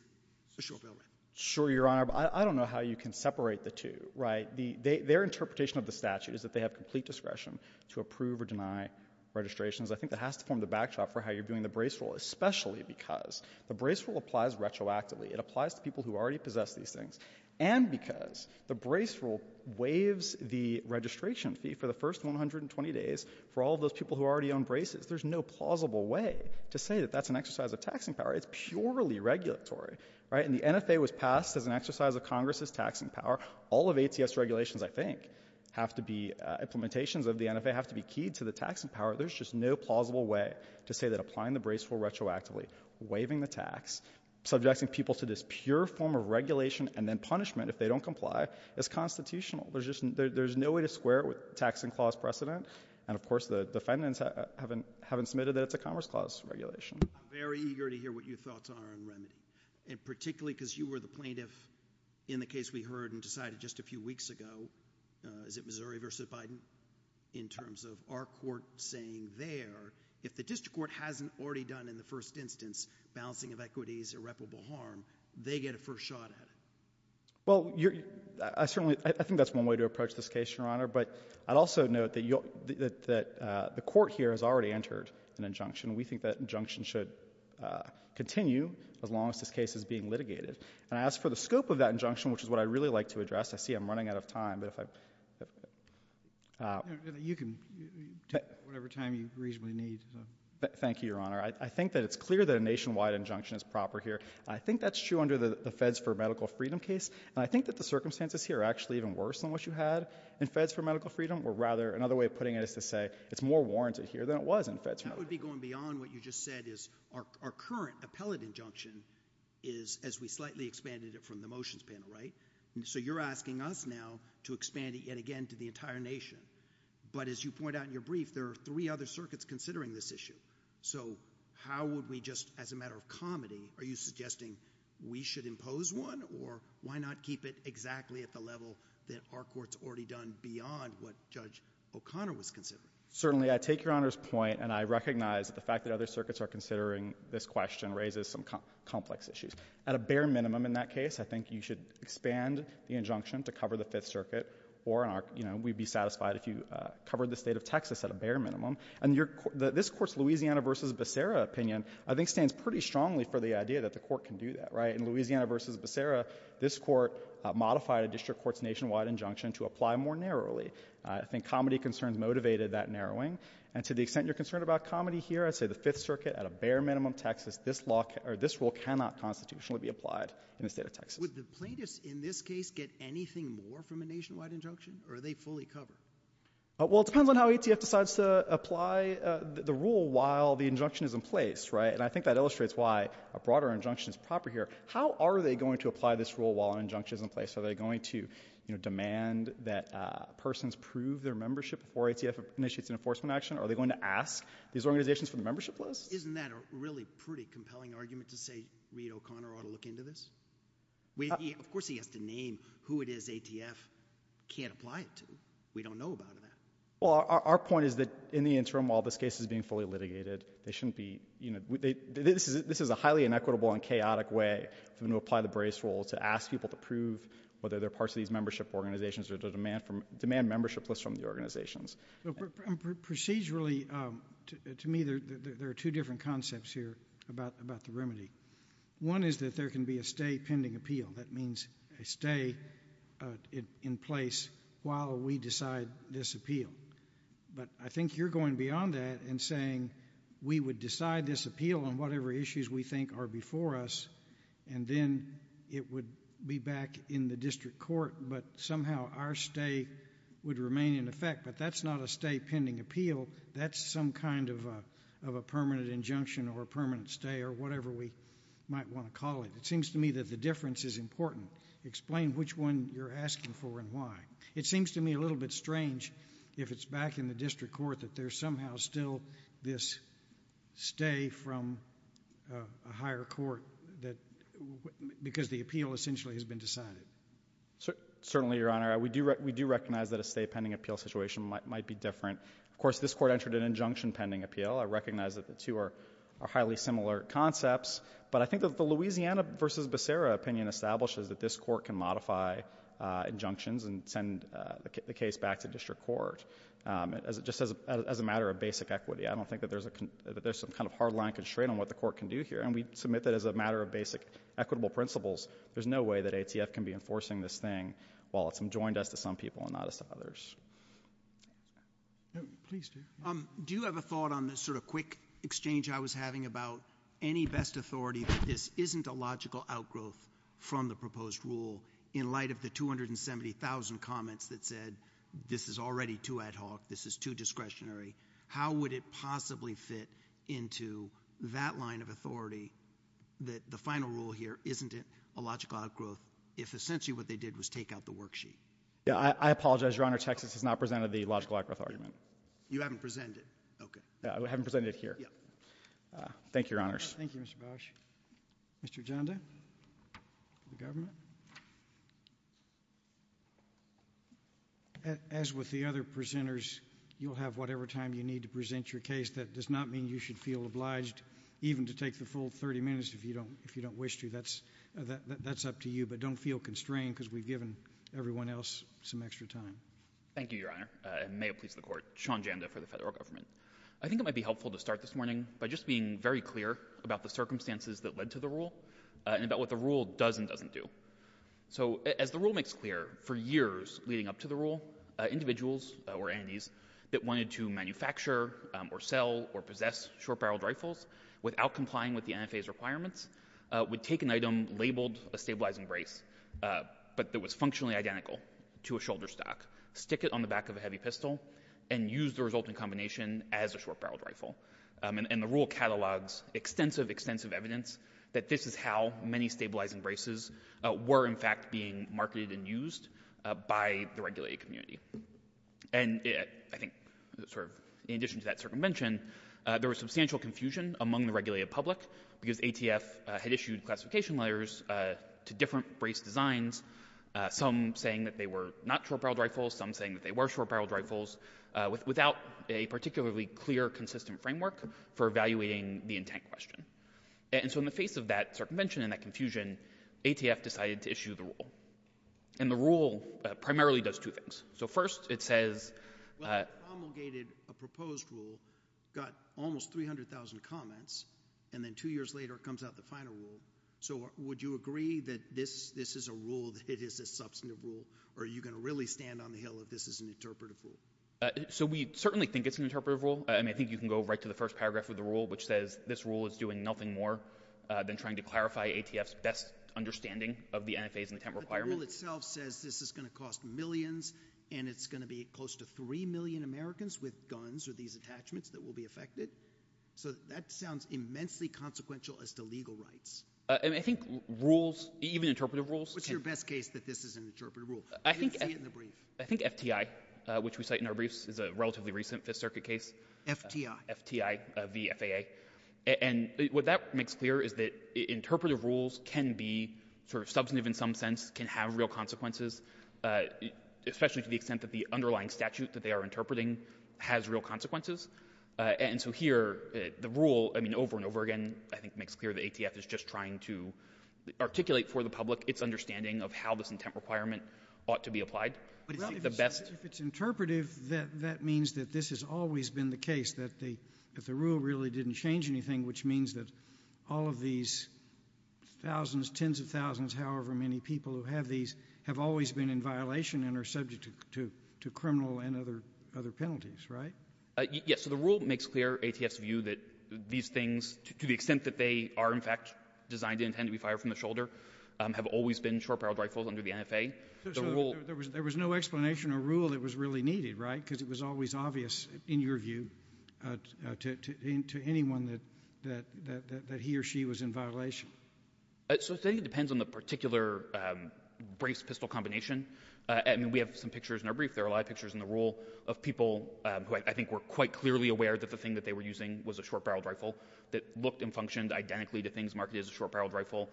a social villain. Sure, Your Honor. I don't know how you can separate the two, right? Their interpretation of the statute is that they have complete discretion to approve or deny registrations. I think it has to form the backdrop for how you're doing the brace rule, especially because the brace rule applies retroactively. It applies to people who already possess these things. And because the brace rule waives the registration fee for the first 120 days for all those people who already own braces. There's no plausible way to say that that's an exercise of taxing power. It's purely regulatory, right? And the NFA was passed as an exercise of Congress's taxing power. All of ATS regulations, I think, have to be implementations of the NFA, have to be keyed to the taxing power. There's just no plausible way to say that applying the brace rule retroactively, waiving the tax, subjecting people to this pure form of regulation, and then punishment if they don't comply, is constitutional. There's no way to square it with taxing clause precedent. And of course, the defendants haven't submitted it to Congress clause regulation. I'm very eager to hear what your thoughts are on Remy. And particularly because you were the plaintiff in the case we heard and decided just a few weeks ago. Is it Missouri versus Biden? In terms of our court saying there, if the district court hasn't already done in the first instance, balancing of equities, irreparable harm, they get a first shot at it. Well, I certainly, I think that's one way to approach this case, Your Honor. But I'd also note that the court here has already entered an injunction. We think that injunction should continue as long as this case is being litigated. And I ask for the scope of that injunction, which is what I'd really like to address. I see I'm running out of time. You can take whatever time you reasonably need. Thank you, Your Honor. I think that it's clear that a nationwide injunction is proper here. I think that's true under the Feds for Medical Freedom case. And I think that the circumstances here are actually even worse than what you had in Feds for Medical Freedom. Or rather, another way of putting it is to say it's more warranted here than it was in Feds for Medical Freedom. That would be going beyond what you just said is our current appellate injunction is, as we slightly expanded it from the motions panel, right? And so you're asking us now to expand it yet again to the entire nation. But as you point out in your brief, there are three other circuits considering this issue. So how would we just, as a matter of comedy, are you suggesting we should impose one? Or why not keep it exactly at the level that our Court's already done beyond what Judge O'Connor was considering? Certainly, I take Your Honor's point, and I recognize that the fact that other circuits are considering this question raises some complex issues. At a bare minimum in that case, I think you should expand the injunction to cover the Fifth Circuit. Or, you know, we'd be satisfied if you covered the state of Texas at a bare minimum. And this, of course, Louisiana v. Becerra opinion, I think, stands pretty strongly for the idea that the Court can do that, right? In Louisiana v. Becerra, this Court modified a district court's nationwide injunction to apply more narrowly. I think comedy concerns motivated that narrowing. And to the extent you're concerned about comedy here, I say the Fifth Circuit, at a bare minimum, Texas, this rule cannot constitutionally be applied in the state of Texas. Would the plaintiffs in this case get anything more from a nationwide injunction? Or are they fully covered? Well, it depends on how ETS decides to apply the rule while the injunction is in place, right? And I think that illustrates why a broader injunction is proper here. How are they going to apply this rule while an injunction is in place? Are they going to, you know, demand that persons prove their membership before ATF initiates an enforcement action? Are they going to ask these organizations for a membership list? Isn't that a really pretty compelling argument to say Reed O'Connor ought to look into this? Of course he has to name who it is ATF can't apply it to. We don't know about it. Well, our point is that in the interim, while this case is being fully this is a highly inequitable and chaotic way to apply the brace rule to ask people to prove whether they're parts of these membership organizations or to demand from demand membership lists from the organizations. Procedurally, to me, there are two different concepts here about the remedy. One is that there can be a stay pending appeal. That means they stay in place while we decide this appeal. But I think you're going beyond that and saying we would decide this appeal on whatever issues we think are before us and then it would be back in the district court but somehow our stay would remain in effect. But that's not a stay pending appeal. That's some kind of a permanent injunction or a permanent stay or whatever we might want to call it. It seems to me that the difference is important. Explain which one you're asking for and why. It seems to me a little bit strange if it's back in the district court that there's still this stay from a higher court because the appeal essentially has been decided. Certainly, Your Honor. We do recognize that a stay pending appeal situation might be different. Of course, this court entered an injunction pending appeal. I recognize that the two are highly similar concepts. But I think that the Louisiana versus Becerra opinion establishes that this court can modify injunctions and send the case back to district court. Just as a matter of basic equity, I don't think that there's some kind of hard line constraint on what the court can do here. And we submit that as a matter of basic equitable principles. There's no way that ATF can be enforcing this thing while it's enjoined as to some people and not as to others. Do you have a thought on this sort of quick exchange I was having about any best authority? This isn't a logical outgrowth from the proposed rule in light of the 270,000 comments that said this is already too ad hoc, this is too discretionary. How would it possibly fit into that line of authority that the final rule here isn't it a logical outgrowth if essentially what they did was take out the worksheet? Yeah, I apologize, Your Honor. Texas has not presented the logical outgrowth argument. You haven't presented it? Okay. I haven't presented it here. Thank you, Your Honors. Thank you, Mr. Bosch. Mr. Janda? As with the other presenters, you'll have whatever time you need to present your case. That does not mean you should feel obliged even to take the full 30 minutes if you don't wish to. That's up to you. But don't feel constrained because we've given everyone else some extra time. Thank you, Your Honor. And may it please the Court. Sean Janda for the Federal Government. I think it might be helpful to start this morning by just being very clear about the circumstances that led to the rule and about what the rule does and doesn't do. So as the rule makes clear, for years leading up to the rule, individuals or entities that wanted to manufacture or sell or possess short-barreled rifles without complying with the NFA's requirements would take an item labeled a stabilizing brace but that was functionally identical to a shoulder stock, stick it on the back of a heavy pistol, and use the resulting combination as a short-barreled rifle. And the rule catalogs extensive, extensive evidence that this is how many stabilizing braces were, in fact, being marketed and used by the regulated community. And I think sort of in addition to that circumvention, there was substantial confusion among the regulated public because ATF had issued classification letters to different brace designs, some saying that they were not short-barreled rifles, some saying that they were short-barreled rifles, without a particularly clear, consistent framework for evaluating the intent question. And so in the face of that circumvention and that confusion, ATF decided to issue the rule. And the rule primarily does two things. So first it says... Well, it promulgated a proposed rule, got almost 300,000 comments, and then two years later it comes out the final rule. So would you agree that this is a rule, that it is a substantive rule, or are you going to really stand on the hill that this is an interpretive rule? So we certainly think it's an interpretive rule. I mean, I think you can go right to the first paragraph of the rule, which says this rule is doing nothing more than trying to clarify ATF's best understanding of the NFA's intent requirement. But the rule itself says this is going to cost millions and it's going to be close to 3 million Americans with guns or these attachments that will be affected. So that sounds immensely consequential as to legal rights. And I think rules, even interpretive rules... What's your best case that this is an interpretive rule? I think FTI, which we cite in our briefs, is a relatively recent Fifth Circuit case. FTI. FTI v. FAA. And what that makes clear is that interpretive rules can be sort of substantive in some sense, can have real consequences, especially to the extent that the underlying statute that they are interpreting has real consequences. And so here the rule, I mean, over and over again, I think makes clear that ATF is just trying to articulate for the public its requirement ought to be applied. If it's interpretive, that means that this has always been the case that the rule really didn't change anything, which means that all of these thousands, tens of thousands, however many people who have these have always been in violation and are subject to criminal and other penalties, right? Yes. So the rule makes clear ATF's view that these things, to the extent that they are, in fact, designed to be intended to be fired from the shoulder, have always been short-barreled rifles under the NFA. There was no explanation or rule that was really needed, right? Because it was always obvious, in your view, to anyone that he or she was in violation. So I'm saying it depends on the particular brace pistol combination. And we have some pictures in our brief. There are a lot of pictures in the rule of people who I think were quite clearly aware that the thing that they were using was a short-barreled rifle that looked and functioned identically to things marked as a short-barreled rifle.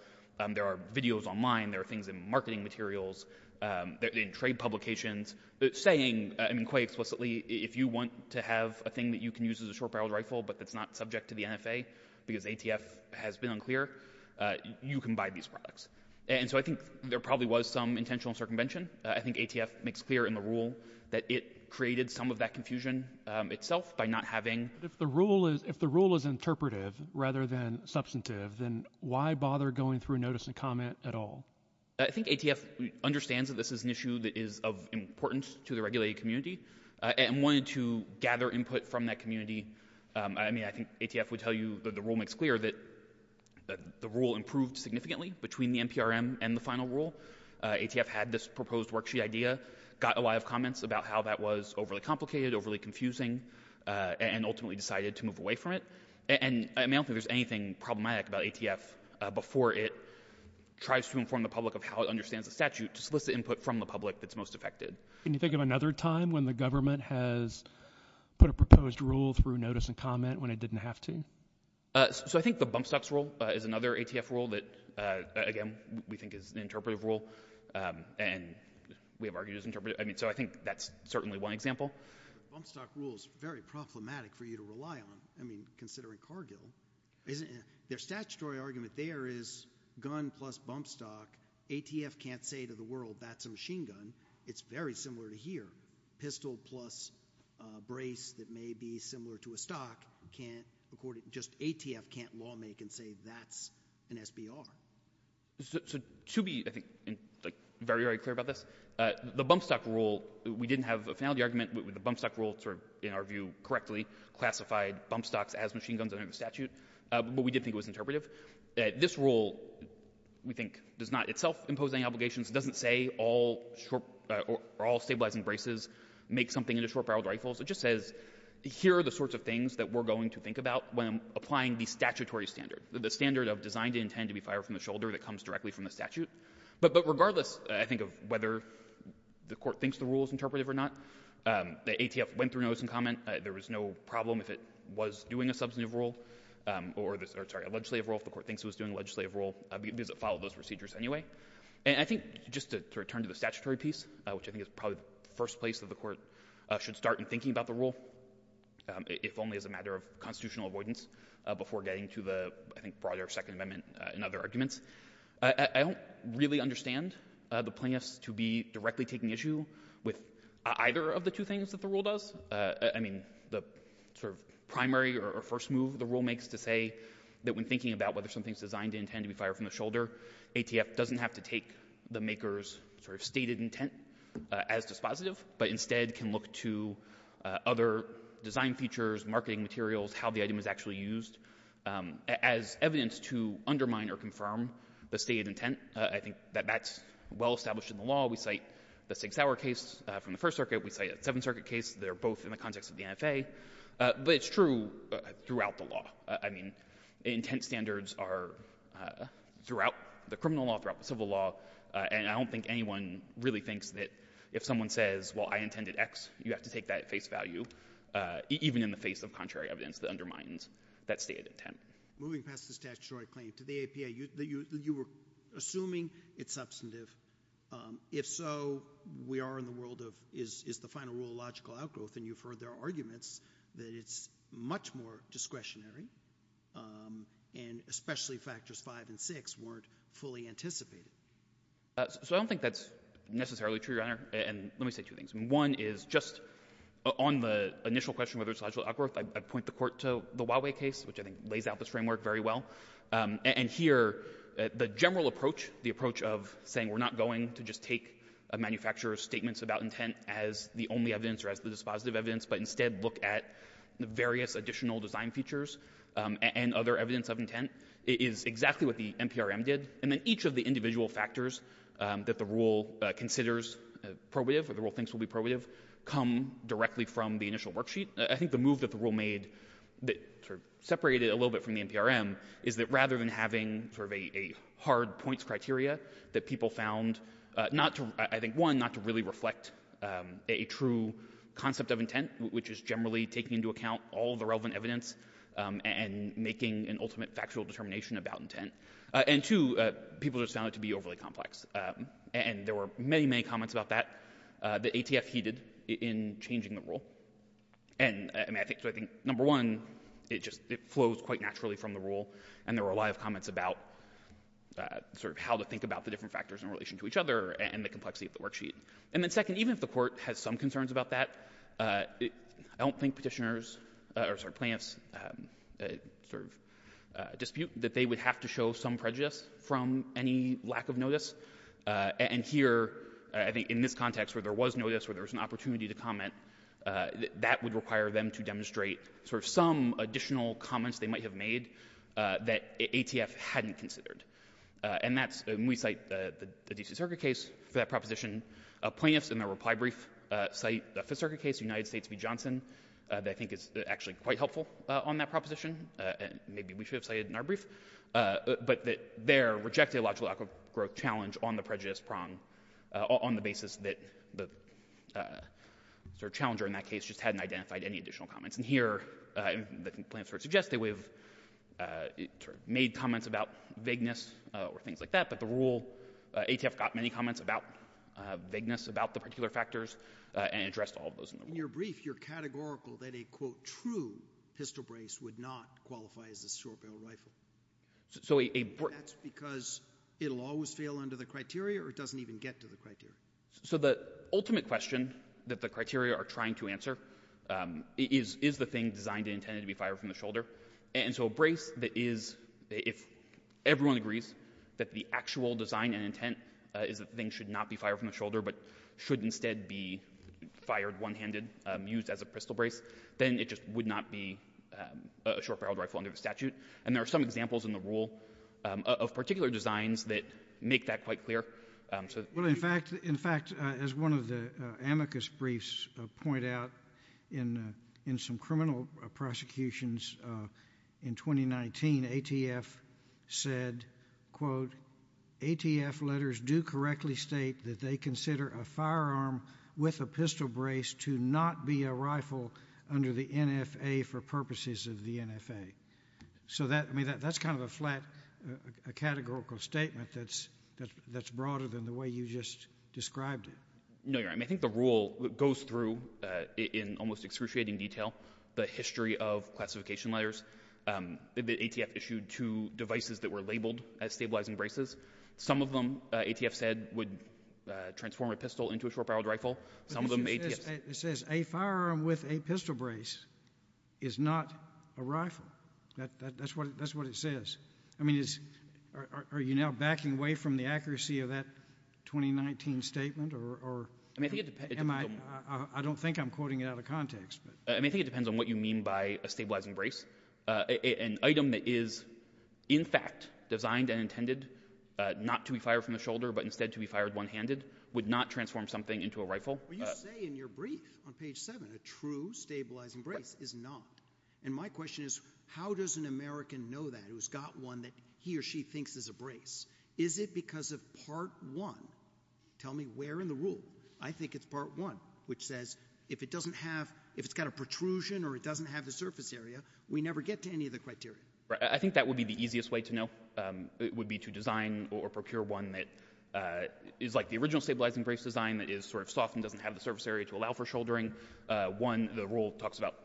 There are videos online. There are things in marketing materials, in trade publications, saying quite explicitly, if you want to have a thing that you can use as a short-barreled rifle but that's not subject to the NFA because ATF has been unclear, you can buy these products. And so I think there probably was some intentional circumvention. I think ATF makes clear in the rule that it created some of that confusion itself by not having— through notice and comment at all. I think ATF understands that this is an issue that is of importance to the regulated community and wanted to gather input from that community. I mean, I think ATF would tell you that the rule makes clear that the rule improved significantly between the NPRM and the final rule. ATF had this proposed worksheet idea, got a lot of comments about how that was overly complicated, overly confusing, and ultimately decided to move away from it. And I don't think there's anything problematic about ATF before it tries to inform the public of how it understands the statute, just with the input from the public that's most affected. Can you think of another time when the government has put a proposed rule through notice and comment when it didn't have to? So I think the bump stocks rule is another ATF rule that, again, we think is an interpretative rule. And we have argued it's interpretative. I mean, so I think that's certainly one example. Bump stock rule is very problematic for you to rely on. I mean, considering Cargill, their statutory argument there is gun plus bump stock. ATF can't say to the world, that's a machine gun. It's very similar to here. Pistol plus brace that may be similar to a stock can't, according, just ATF can't law make and say that's an SBR. So to be, I think, very, very clear about this, the bump stock rule, we didn't have a finality argument. The bump stock rule, in our view, correctly classified bump stocks as machine guns under the statute. But we did think it was interpretative. This rule, we think, does not itself impose any obligations. It doesn't say all stabilizing braces make something into short-barreled rifles. It just says, here are the sorts of things that we're going to think about when applying the statutory standard, the standard of designed and intended to be fired from the shoulder that comes directly from the statute. But regardless, I think, of whether the Court thinks the rule is interpretative or not, the ATF went through notes and comment. There was no problem if it was doing a substantive rule or, sorry, a legislative rule. If the Court thinks it was doing a legislative rule, does it follow those procedures anyway? And I think, just to return to the statutory piece, which I think is probably the first place that the Court should start in thinking about the rule, if only as a matter of constitutional avoidance, before getting to the, I think, broader Second Amendment and other arguments, I don't really understand the plaintiffs to be directly taking issue with either of the two things that the rule does. I mean, the sort of primary or first move the rule makes to say that when thinking about whether something is designed and intended to be fired from the shoulder, ATF doesn't have to take the maker's sort of stated intent as dispositive, but instead can look to other design features, marketing materials, how the item is actually used as evidence to undermine or confirm the stated intent. I think that that's well established in the law. We cite the Sig Sauer case from the First Circuit. We cite a Seventh Circuit case. They're both in the context of the NFA. But it's true throughout the law. I mean, intent standards are throughout the criminal law, throughout the civil law, and I don't think anyone really thinks that if someone says, well, I intended X, you have to take that at face value, even in the face of contrary evidence that undermines that stated intent. Moving past the statutory claim to the APA, you were assuming it's substantive. If so, we are in the world of is the final rule a logical outgrowth, and you've heard their arguments that it's much more discretionary, and especially factors five and six weren't fully anticipated. So I don't think that's necessarily true, Your Honor. And let me say two things. One is just on the initial question whether it's a logical outgrowth, I point the court to the Huawei case, which I think lays out this framework very well. And here, the general approach, the approach of saying we're not going to just take a manufacturer's statements about intent as the only evidence or as the dispositive evidence, but instead look at the various additional design features and other evidence of intent is exactly what the NPRM did. And then each of the individual factors that the rule considers probative, or the rule thinks will be probative, come directly from the initial worksheet. I think the move that the rule made that sort of separated it a little bit from the NPRM is that rather than having sort of a hard points criteria that people found not to, I think, one, not to really reflect a true concept of intent, which is generally taking into account all the relevant evidence and making an ultimate factual determination about intent, and two, people just found it to be overly complex. And there were many, many comments about that that ATF heeded in changing the rule. And I think, so I think, number one, it just flows quite naturally from the rule, and there were a lot of comments about sort of how to think about the different factors in relation to each other and the complexity of the worksheet. And then second, even if the court has some concerns about that, I don't think petitioners or plaintiffs sort of dispute that they would have to show some prejudice from any lack of notice. And here, I think, in this context where there was notice, where there was an opportunity to comment, that would require them to demonstrate sort of some additional comments they might have made that ATF hadn't considered. And that's when we cite the DC Circuit case for that proposition, plaintiffs in their reply brief cite the Fifth Circuit case, United States v. Johnson, that I think is actually quite helpful on that proposition, and maybe we should have cited it in our brief, but that there rejected a logical outgrowth challenge on the prejudice prong on the basis that the sort of challenger in that case just hadn't identified any additional comments. And here, the complaints were suggested with made comments about vagueness or things like that, but the rule, ATF got many comments about particular factors and addressed all of those. In your brief, you're categorical that a, quote, true histo-brace would not qualify as a short-barreled rifle. That's because it'll always fail under the criteria or it doesn't even get to the criteria? So the ultimate question that the criteria are trying to answer is the thing designed and intended to be fired from the shoulder. And so a brace that is, if everyone agrees that the actual design and intent is that should instead be fired one-handed, used as a pistol brace, then it just would not be a short-barreled rifle under the statute. And there are some examples in the rule of particular designs that make that quite clear. Well, in fact, as one of the amicus briefs point out in some criminal prosecutions in 2019, ATF said, quote, ATF letters do correctly state that they consider a firearm with a pistol brace to not be a rifle under the NFA for purposes of the NFA. So that, I mean, that's kind of a flat categorical statement that's broader than the way you just described it. No, Your Honor. I mean, I think the rule goes through in almost excruciating detail the history of classification letters. The ATF issued two devices that were labeled as stabilizing braces. Some of them, ATF said, would transform a pistol into a short-barreled rifle. It says a firearm with a pistol brace is not a rifle. That's what it says. I mean, are you now backing away from the accuracy of that 2019 statement? I don't think I'm quoting it out of context. I think it depends on what you mean by a stabilizing brace. An item that is, in fact, designed and intended not to be fired from the shoulder, but instead to be fired one-handed, would not transform something into a rifle. But you say in your brief on page seven, a true stabilizing brace is not. And my question is, how does an American know that who's got one that he or she thinks is a brace? Is it because of part one? Tell me where in the rule. I think it's part one, which says if it doesn't have, if it's got a protrusion or it doesn't have the surface area, we never get to any of the criteria. I think that would be the easiest way to know. It would be to design or procure one that is like the original stabilizing brace design, that is sort of soft and doesn't have the surface area to allow for shouldering. One, the rule talks about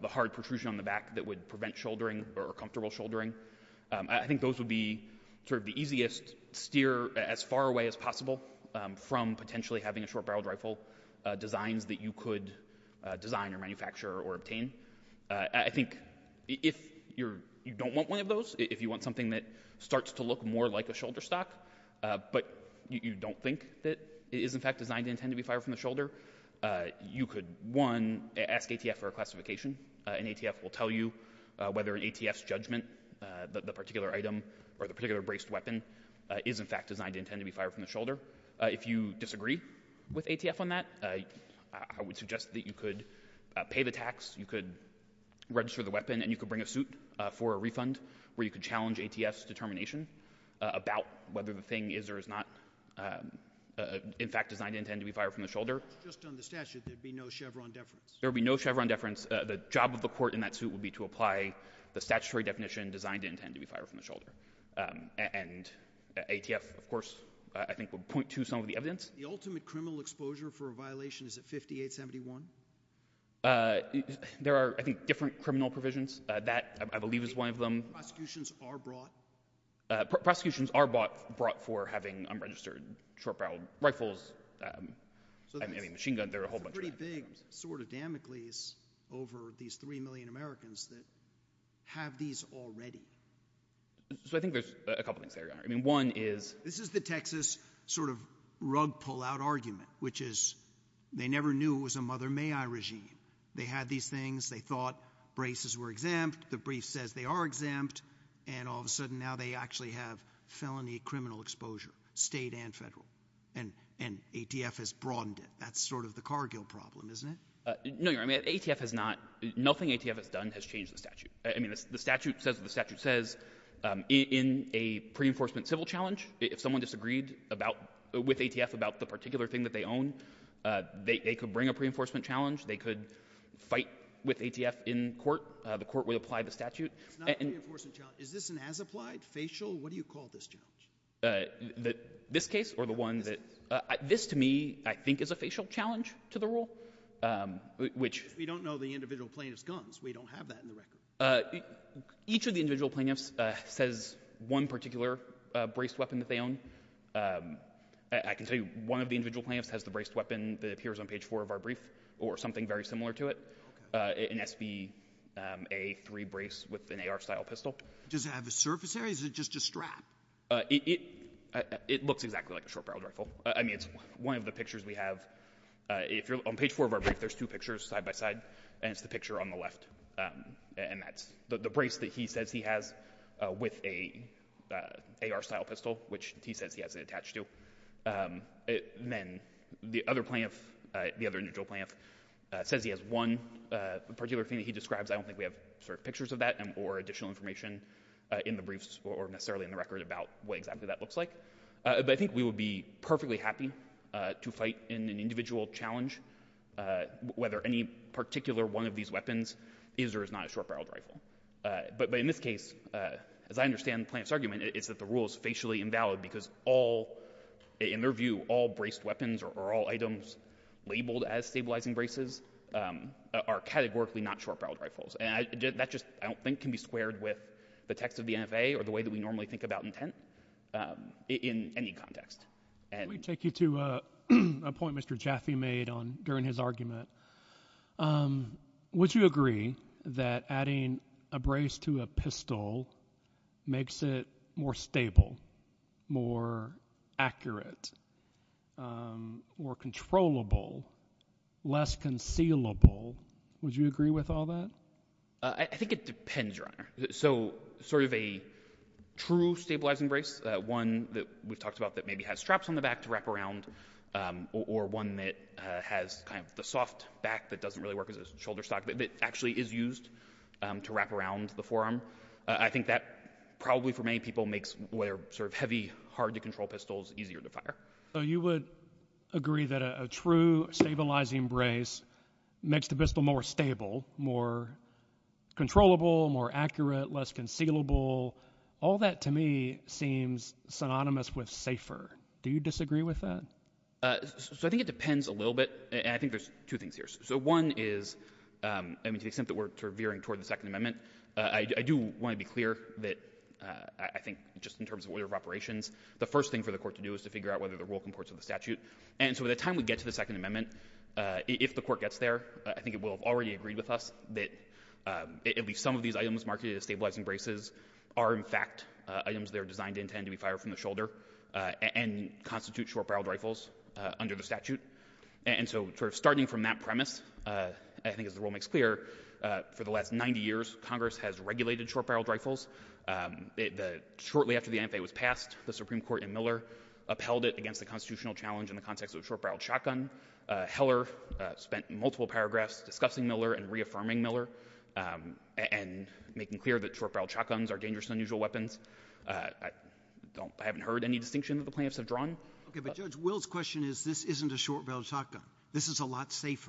the hard protrusion on the back that would prevent shouldering or comfortable shouldering. I think those would be sort of the easiest steer as far away as possible from potentially having a short design or manufacture or obtain. I think if you don't want one of those, if you want something that starts to look more like a shoulder stock, but you don't think that it is in fact designed to intend to be fired from the shoulder, you could one, ask ATF for a classification, and ATF will tell you whether an ATF's judgment that the particular item or the particular braced weapon is in fact designed to intend to be fired from the shoulder. If you disagree with ATF on that, I would suggest that you could pay the tax, you could register the weapon, and you could bring a suit for a refund where you could challenge ATF's determination about whether the thing is or is not in fact designed to intend to be fired from the shoulder. Just on the statute, there would be no Chevron deference? There would be no Chevron deference. The job of the court in that suit would be to apply the statutory definition designed to intend to be fired from the shoulder, and ATF, of course, I think would point to some of the evidence. The ultimate criminal exposure for violation, is it 5871? There are, I think, different criminal provisions. That, I believe, is one of them. Prosecutions are brought? Prosecutions are brought for having unregistered short-barreled rifles, I mean, machine guns, there are a whole bunch of... Pretty big sort of Damocles over these three million Americans that have these already. So I think there's a couple things there. I mean, one is... This is the Texas sort of rug pull out argument, which is they never knew it was a mother may I regime. They had these things, they thought braces were exempt, the brief says they are exempt, and all of a sudden now they actually have felony criminal exposure, state and federal. And ATF has broadened it. That's sort of the Cargill problem, isn't it? No, I mean, ATF has not... Nothing ATF has done has changed the statute. I mean, the statute says that the statute says in a pre-enforcement civil challenge, if someone disagreed with ATF about the particular thing that they own, they could bring a pre-enforcement challenge, they could fight with ATF in court, the court would apply the statute. It's not a pre-enforcement challenge. Is this an as-applied, facial, what do you call this challenge? This case or the one that... This, to me, I think is a facial challenge to the rule, which... We don't know the individual plaintiff's guns. We don't have that in the record. Each of the individual plaintiffs says one particular braced weapon that they own. I can tell you one of the individual plaintiffs has the braced weapon that appears on page four of our brief, or something very similar to it, an SB-A3 brace with an AR-style pistol. Does it have a surface area, or is it just a strap? It looks exactly like a short-barreled rifle. I mean, it's one of the pictures we have. If you're on page four of our brief, there's two types. The brace that he says he has with an AR-style pistol, which he says he has it attached to. Then the other plaintiff, the other individual plaintiff, says he has one particular thing that he describes. I don't think we have pictures of that or additional information in the briefs or necessarily in the record about what exactly that looks like. But I think we would be perfectly happy to fight in an individual challenge, whether any particular one of these weapons is or is not a short-barreled rifle. But in this case, as I understand the plaintiff's argument, it's that the rule is spatially invalid because all, in their view, all braced weapons or all items labeled as stabilizing braces are categorically not short-barreled rifles. And that just, I don't think, can be squared with the text of the NFA or the way that we normally think about intent in any context. Let me take you to a point Mr. Jaffe made during his argument. Would you agree that adding a brace to a pistol makes it more stable, more accurate, more controllable, less concealable? Would you agree with all that? I think it depends, Your Honor. So, sort of a true stabilizing brace, one that we talked about maybe has straps on the back to wrap around, or one that has kind of the soft back that doesn't really work as a shoulder stock, but it actually is used to wrap around the forearm. I think that probably, for many people, makes sort of heavy, hard-to-control pistols easier to fire. So you would agree that a true stabilizing brace makes the pistol more stable, more accurate, more controllable? I think it depends, Your Honor. Do you disagree with that? So I think it depends a little bit, and I think there's two things here. So one is, I mean, since we're sort of veering toward the Second Amendment, I do want to be clear that I think just in terms of order of operations, the first thing for the Court to do is to figure out whether the rule comports with the statute. And so by the time we get to the Second Amendment, if the Court gets there, I think it will have already agreed with us that at least some of these items marked as stabilizing braces are, in fact, items that are designed to intend to be and constitute short-barreled rifles under the statute. And so starting from that premise, I think as the rule makes clear, for the last 90 years, Congress has regulated short-barreled rifles. Shortly after the NFA was passed, the Supreme Court in Miller upheld it against the constitutional challenge in the context of a short-barreled shotgun. Heller spent multiple paragraphs discussing Miller and reaffirming Miller and making clear that short-barreled rifles are not safe.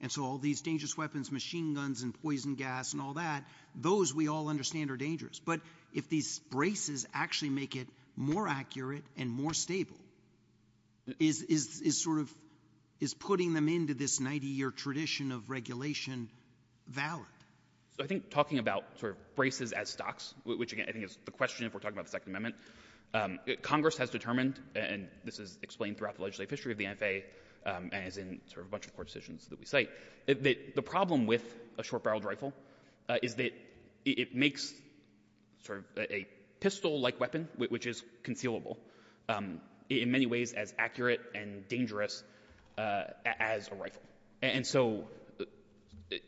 And so all these dangerous weapons, machine guns and poison gas and all that, those we all understand are dangerous. But if these braces actually make it more accurate and more stable, is putting them into this 90-year tradition of regulation valid? So I think talking about braces as stocks, which again, I think is the question if we're talking about the Second Amendment, Congress has determined, and this is explained throughout the legislative history of the NFA as in sort of a bunch of court decisions that we cite, that the problem with a short-barreled rifle is that it makes sort of a pistol-like weapon, which is concealable, in many ways as accurate and dangerous as a rifle. And so,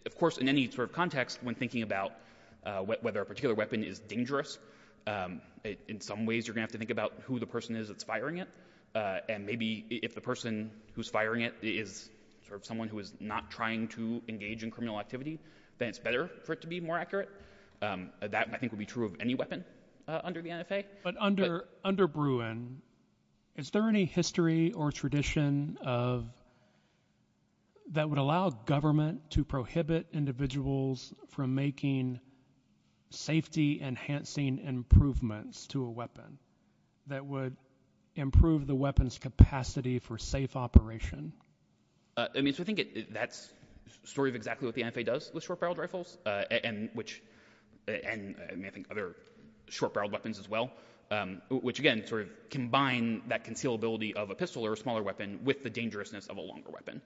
of course, in any sort of context, when thinking about whether a particular weapon is dangerous, in some ways you're going to think about who the person is that's firing it. And maybe if the person who's firing it is someone who is not trying to engage in criminal activity, then it's better for it to be more accurate. That I think would be true of any weapon under the NFA. But under Bruin, is there any history or tradition that would allow government to improvements to a weapon that would improve the weapon's capacity for safe operation? I mean, so I think that's sort of exactly what the NFA does with short-barreled rifles, and I think other short-barreled weapons as well, which again sort of combine that concealability of a pistol or a smaller weapon with the dangerousness of a longer weapon.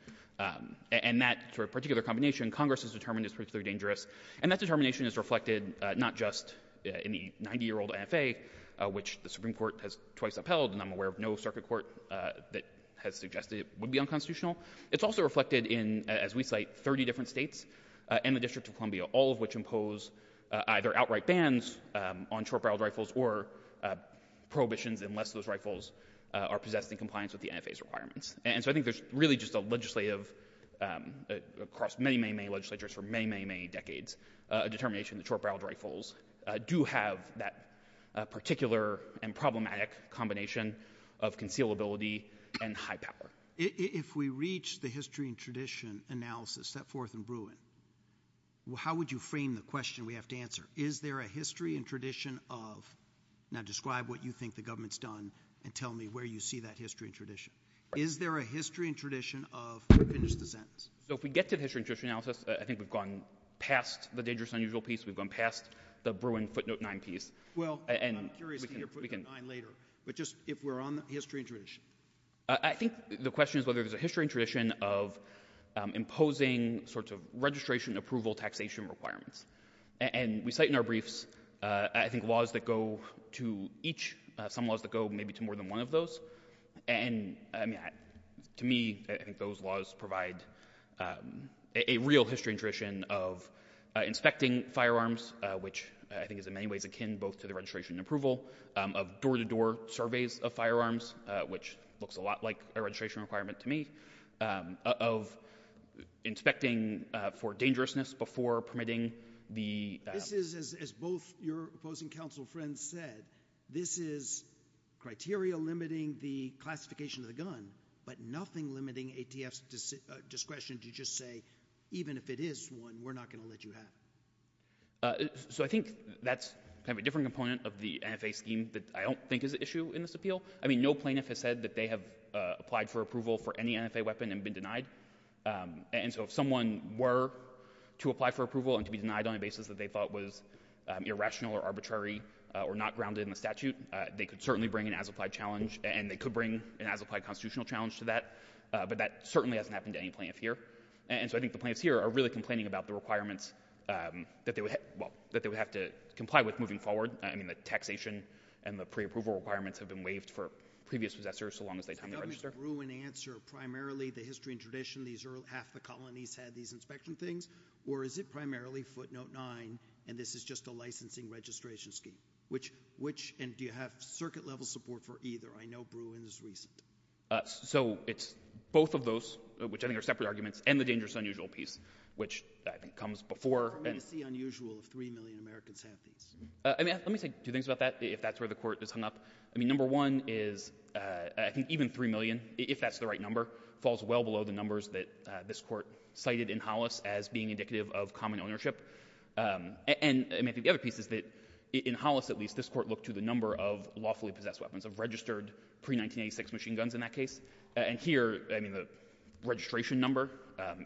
And that sort of particular combination, Congress has determined is particularly dangerous. And that determination is reflected not just in the 90-year-old NFA, which the Supreme Court has twice upheld, and I'm aware of no circuit court that has suggested it would be unconstitutional. It's also reflected in, as we cite, 30 different states and the District of Columbia, all of which impose either outright bans on short-barreled rifles or prohibitions unless those rifles are possessed in compliance with the NFA's requirements. And so I think there's really just a legislative, across many, many, many legislatures for many, many, many decades, a determination that short-barreled rifles do have that particular and problematic combination of concealability and high power. If we reach the history and tradition analysis, set forth and brew it, how would you frame the question we have to answer? Is there a history and tradition of, now describe what you think the government's done and tell me where you see that history and tradition. Is there a history and tradition of, finish the sentence. So if we get to history and tradition analysis, I think we've gone past the dangerous and unusual piece. We've gone past the brewing footnote 9 piece. Well, I'm curious to hear footnote 9 later, but just if we're on the history and tradition. I think the question is whether there's a history and tradition of imposing sorts of registration, approval, taxation requirements. And we cite in our briefs, I think laws that go to each, some laws that go maybe to more than one of those, and to me, I think those laws provide a real history and tradition of inspecting firearms, which I think is in many ways akin both to the registration and approval of door-to-door surveys of firearms, which looks a lot like a registration requirement to me, of inspecting for dangerousness before permitting the... This is, as both your opposing counsel friends said, this is criteria limiting the classification of the gun, but nothing limiting ATF's discretion to just say, even if it is one, we're not going to let you have it. So I think that's kind of a different component of the NFA scheme that I don't think is an issue in this appeal. I mean, no plaintiff has said that they have applied for approval for any NFA weapon and been denied. And so if someone were to apply for approval and to be denied on a basis that they thought was irrational or arbitrary or not grounded in the statute, they could certainly bring an as-applied challenge, and they could bring an as-applied constitutional challenge to that, but that certainly hasn't happened to any plaintiff here. And so I think the plaintiffs here are really complaining about the requirements that they would have to comply with moving forward. I mean, the taxation and the pre-approval requirements have been waived for previous possessors so long as they... Is there room in the answer, primarily the history and tradition, half the colonies had these inspection things, or is it primarily footnote nine, and this is just a licensing registration scheme? Which, and do you have circuit level support for either? I know Bruin's recent. So it's both of those, which I think are separate arguments, and the dangerous unusual piece, which I think comes before... What is the unusual of three million American tansies? Let me say a few things about that, if that's where the court is hung up. I mean, number one is even three million, if that's the right number, falls well below the numbers that this court cited in Hollis as being indicative of common ownership. And I mean, the other piece is that in Hollis, at least, this court looked to the number of lawfully possessed weapons, of registered pre-1986 machine guns in that case, and here, I mean, the registration number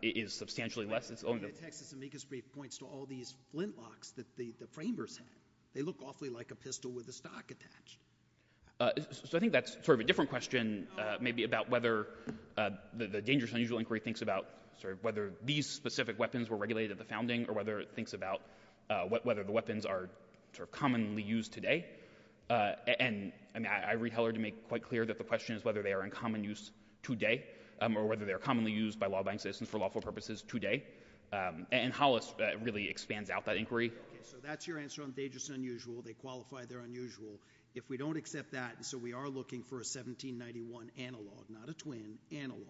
is substantially less. The text at the naked scrape points to all these flintlocks that the framers had. They look awfully like a pistol with a stock attached. So I think that's sort of a different question maybe about whether the dangerous unusual inquiry thinks about sort of whether these specific weapons were regulated at the founding, or whether it thinks about whether the weapons are commonly used today. And I read Heller to make quite clear that the question is whether they are in common use today, or whether they are commonly used by law-abiding citizens for lawful purposes today. And Hollis really expands out that inquiry. Yeah, so that's your answer on dangerous and unusual. They qualify, they're unusual. If we don't accept that, and so we are looking for a 1791 analog, not a twin, analog,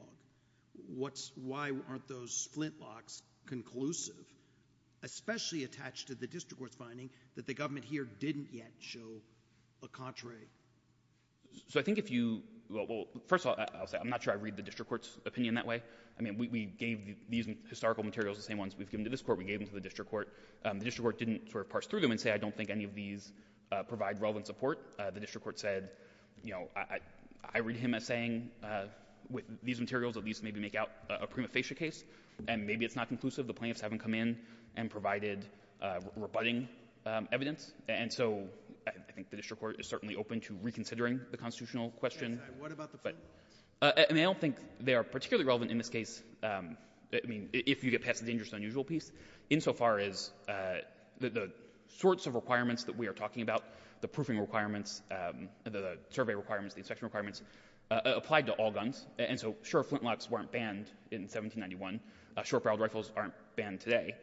why aren't those flintlocks conclusive, especially attached to the district court's finding that the government here didn't yet show a contrary? So I think if you, well, first of all, I'll say, I'm not sure I read the district court's opinion that way. I mean, we gave these historical materials, the same ones we've given to this court, we gave them to the district court. The district court didn't sort of parse through them and say, I don't think any of these provide relevant support. The district court said, you know, I read him as saying with these materials that these maybe make out a prima facie case, and maybe it's not conclusive. The plaintiffs haven't come in and provided rebutting evidence. And so I think the district court is certainly open to reconsidering the constitutional question. And what about the flintlocks? And I don't think they are particularly relevant in this case. I mean, if you get past the dangerous and unusual piece, insofar as the sorts of requirements that we are talking about, the proofing requirements, the survey requirements, the inspection requirements applied to all guns. And so sure, flintlocks weren't banned in 1791. Short barreled rifles aren't banned today.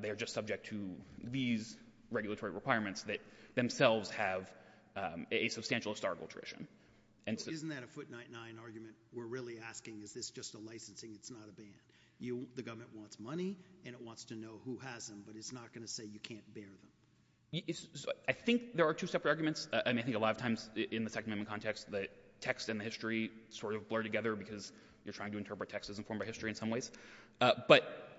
They are just subject to these regulatory requirements that themselves have a substantial historical tradition. Isn't that a foot nine nine argument? We're really asking, is this just a licensing? It's not a ban. The government wants money and it wants to know who has them, but it's not going to say you can't bear them. I think there are two separate arguments. And I think a lot of times in the Second Amendment context, the text and the history sort of blur together because you're trying to interpret text as informed by history in some ways. But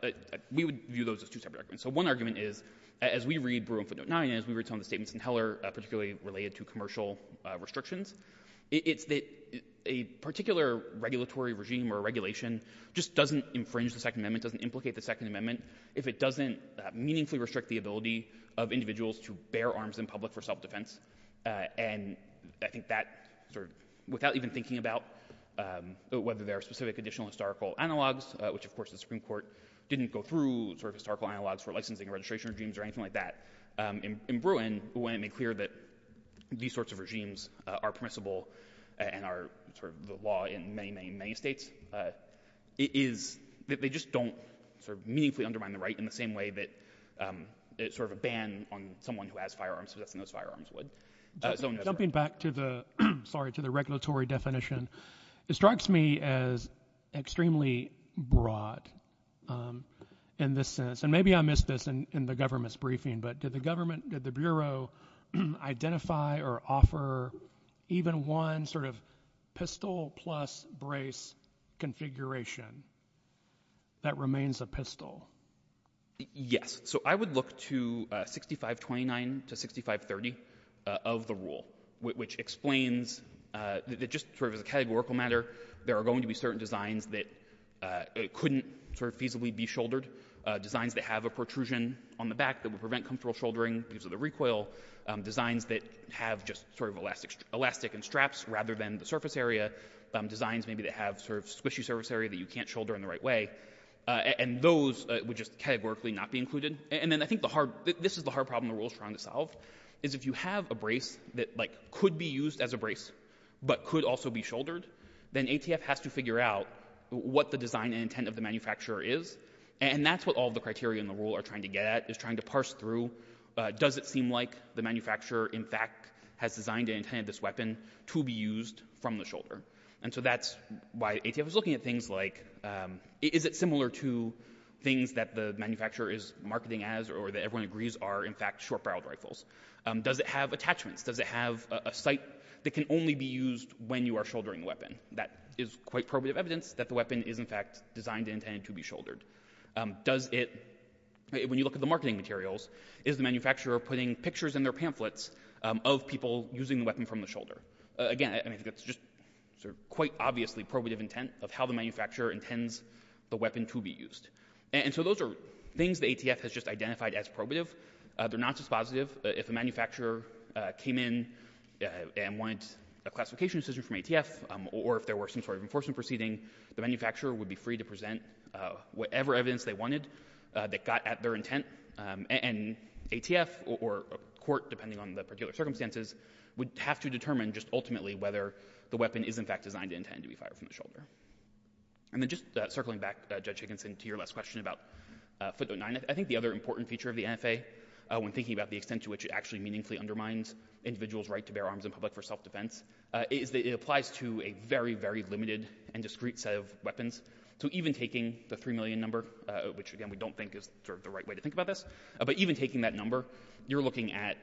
we would view those as two separate arguments. So one argument is, as we read Bruin footnote nine and as we read some of the statements in Heller, particularly related to commercial restrictions, it's that a particular regulatory regime or regulation just doesn't infringe the Second Amendment, doesn't allow individuals to bear arms in public for self-defense. And I think that sort of without even thinking about whether there are specific additional historical analogs, which of course the Supreme Court didn't go through sort of historical analogs for licensing or registration regimes or anything like that. In Bruin, the way it made clear that these sorts of regimes are permissible and are sort of the law in many, many, many states is that they just don't sort of meaningfully undermine the right in the same way that it's sort of a ban on someone who has firearms to lift those firearms would. Jumping back to the, sorry, to the regulatory definition, it strikes me as extremely broad in this sense. And maybe I missed this in the government's briefing, but did the government, did the Bureau identify or offer even one sort of pistol plus brace configuration that remains a pistol? Yes. So I would look to 6529 to 6530 of the rule, which explains that just sort of as a categorical matter, there are going to be certain designs that couldn't sort of feasibly be shouldered, designs that have a protrusion on the back that would prevent comfortable shouldering because of the recoil, designs that have just sort of elastic and straps rather than the surface area, designs maybe that have sort of squishy surface area that can't shoulder in the right way. And those would just categorically not be included. And then I think the hard, this is the hard problem the rule is trying to solve, is if you have a brace that like could be used as a brace, but could also be shouldered, then ATF has to figure out what the design and intent of the manufacturer is. And that's what all the criteria in the rule are trying to get at, is trying to parse through does it seem like the manufacturer in fact has designed and intended this weapon to be used from the shoulder. And so that's why ATF is looking at things like is it similar to things that the manufacturer is marketing as or that everyone agrees are in fact short barreled rifles. Does it have attachments? Does it have a sight that can only be used when you are shouldering the weapon? That is quite probative evidence that the weapon is in fact designed and intended to be shouldered. Does it, when you look at the marketing materials, is the manufacturer putting pictures in their pamphlets of people using the weapon from the shoulder? Again, I mean it's just sort of quite obviously probative intent of how the manufacturer intends the weapon to be used. And so those are things that ATF has just identified as probative. They're not dispositive. If the manufacturer came in and wanted a classification decision from ATF, or if there were some sort of enforcement proceeding, the manufacturer would be free to present whatever evidence they wanted that got at their intent. And ATF or court, depending on the particular circumstances, would have to determine just ultimately whether the weapon is in fact designed and intended to be fired from the shoulder. And then just circling back, Judge Higginson, to your last question about footnote 9, I think the other important feature of the NFA, when thinking about the extent to which it actually meaningfully undermines individuals' right to bear arms in public for self-defense, is that it applies to a very, very limited and discrete set of weapons. So even taking the 3 million number, which again we don't think is sort of the right way to think about this, but even taking that number, you're looking at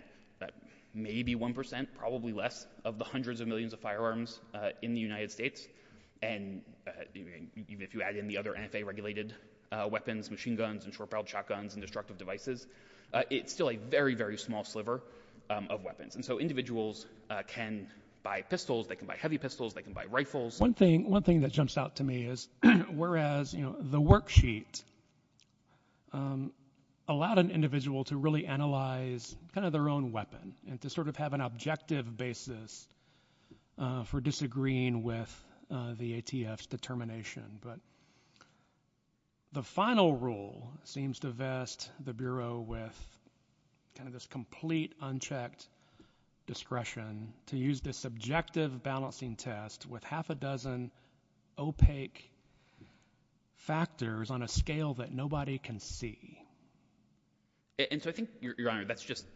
maybe 1%, probably less, of the hundreds of millions of firearms in the United States. And even if you add in the other NFA-regulated weapons, machine guns and short-barreled shotguns and destructive devices, it's still a very, very small sliver of weapons. And so individuals can buy pistols. They can buy heavy pistols. They can buy rifles. One thing that jumps out to me is whereas the worksheet allowed an individual to really analyze kind of their own weapon and to sort of have an objective basis for disagreeing with the ATF's determination. But the final rule seems to vest the Bureau with kind of this complete unchecked discretion to use this subjective balancing test with half a dozen opaque factors on a scale that nobody can see. And so I think, Your Honor, that's just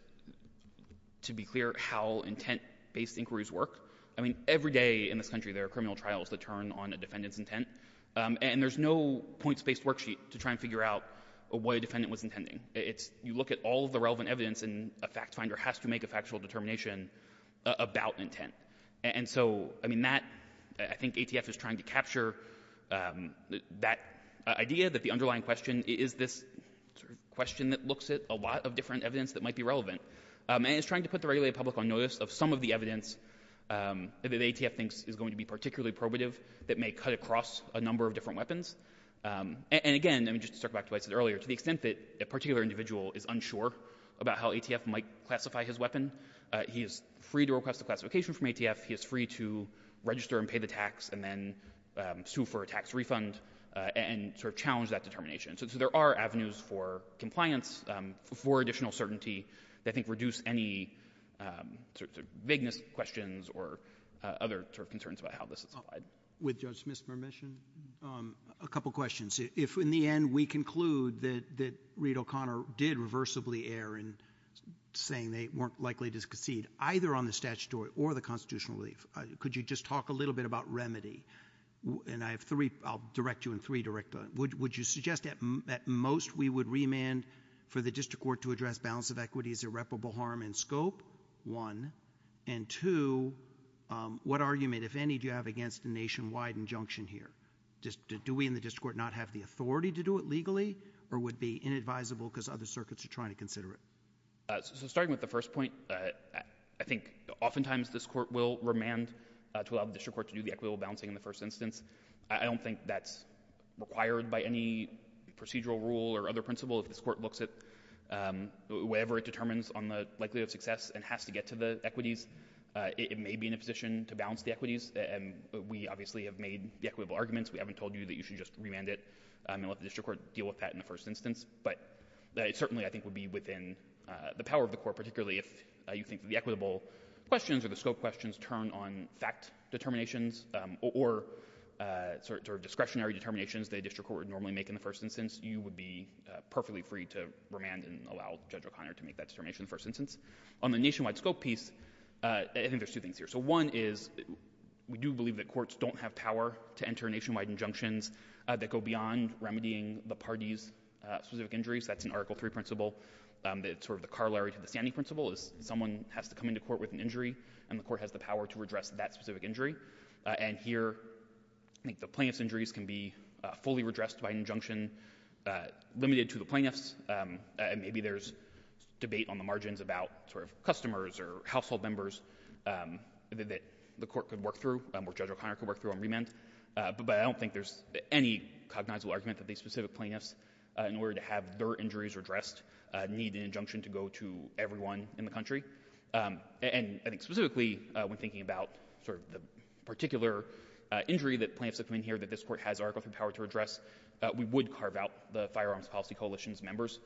to be clear how intent-based inquiries work. I mean, every day in this country there are criminal trials that turn on a defendant's intent. And there's no points-based worksheet to try and you look at all the relevant evidence and a fact finder has to make a factual determination about intent. And so, I mean, that I think ATF is trying to capture that idea that the underlying question is this question that looks at a lot of different evidence that might be relevant. And it's trying to put the regulated public on notice of some of the evidence that ATF thinks is going to be particularly probative that may cut across a number of different weapons. And again, I mean, just to circle back to what I said earlier, to the extent that a particular individual is unsure about how ATF might classify his weapon, he is free to request a classification from ATF. He is free to register and pay the tax and then sue for a tax refund and sort of challenge that determination. So there are avenues for compliance for additional certainty that I think reduce any sort of vagueness questions or other sort of concerns about how this is applied. With Judge Smith's permission, a couple of questions. If in the end we conclude that Reed O'Connor did reversibly err in saying they weren't likely to concede either on the statutory or the constitutional relief, could you just talk a little bit about remedy? And I have three, I'll direct you in three directly. Would you suggest that at most we would remand for the district court to address balance of equity as irreparable harm and scope, one? And two, what argument, if any, do you have against the nationwide injunction here? Do we in the district court not have the authority to do it legally or would be inadvisable because other circuits are trying to consider it? So starting with the first point, I think oftentimes this court will remand to allow the district court to do the equitable balancing in the first instance. I don't think that's required by any procedural rule or other principles. This court looks at whatever it determines on the likelihood of success and has to get to the equities. It may be in a position to balance the equities, and we obviously have made the equitable arguments. We haven't told you that you should just remand it and let the district court deal with that in the first instance. But it certainly I think would be within the power of the court, particularly if you think the equitable questions or the scope questions turn on fact determinations or sort of discretionary determinations that a district court would normally make in the first instance, you would be perfectly free to remand and allow Judge O'Connor to make that determination in the first instance. On the nationwide scope piece, I think there's two things here. So one is we do believe that courts don't have power to enter nationwide injunctions that go beyond remedying the party's specific injuries. That's an Article III principle. It's sort of the Carlyle v. Sande principle is someone has to come into court with an injury, and the court has the power to redress that specific injury. And here, I think the plaintiff's injuries can be fully redressed by an injunction limited to the plaintiff. Maybe there's debate on the margins about sort of customers or household members that the court could work through or Judge O'Connor could work through and remand. But I don't think there's any cognizable argument that these specific plaintiffs, in order to have their injuries redressed, need an injunction to go to everyone in the country. And I think specifically when thinking about sort of the particular injury that plaintiffs have come in here that this court has Article III power to redress, we would carve out the Firearms Policy Coalition's members,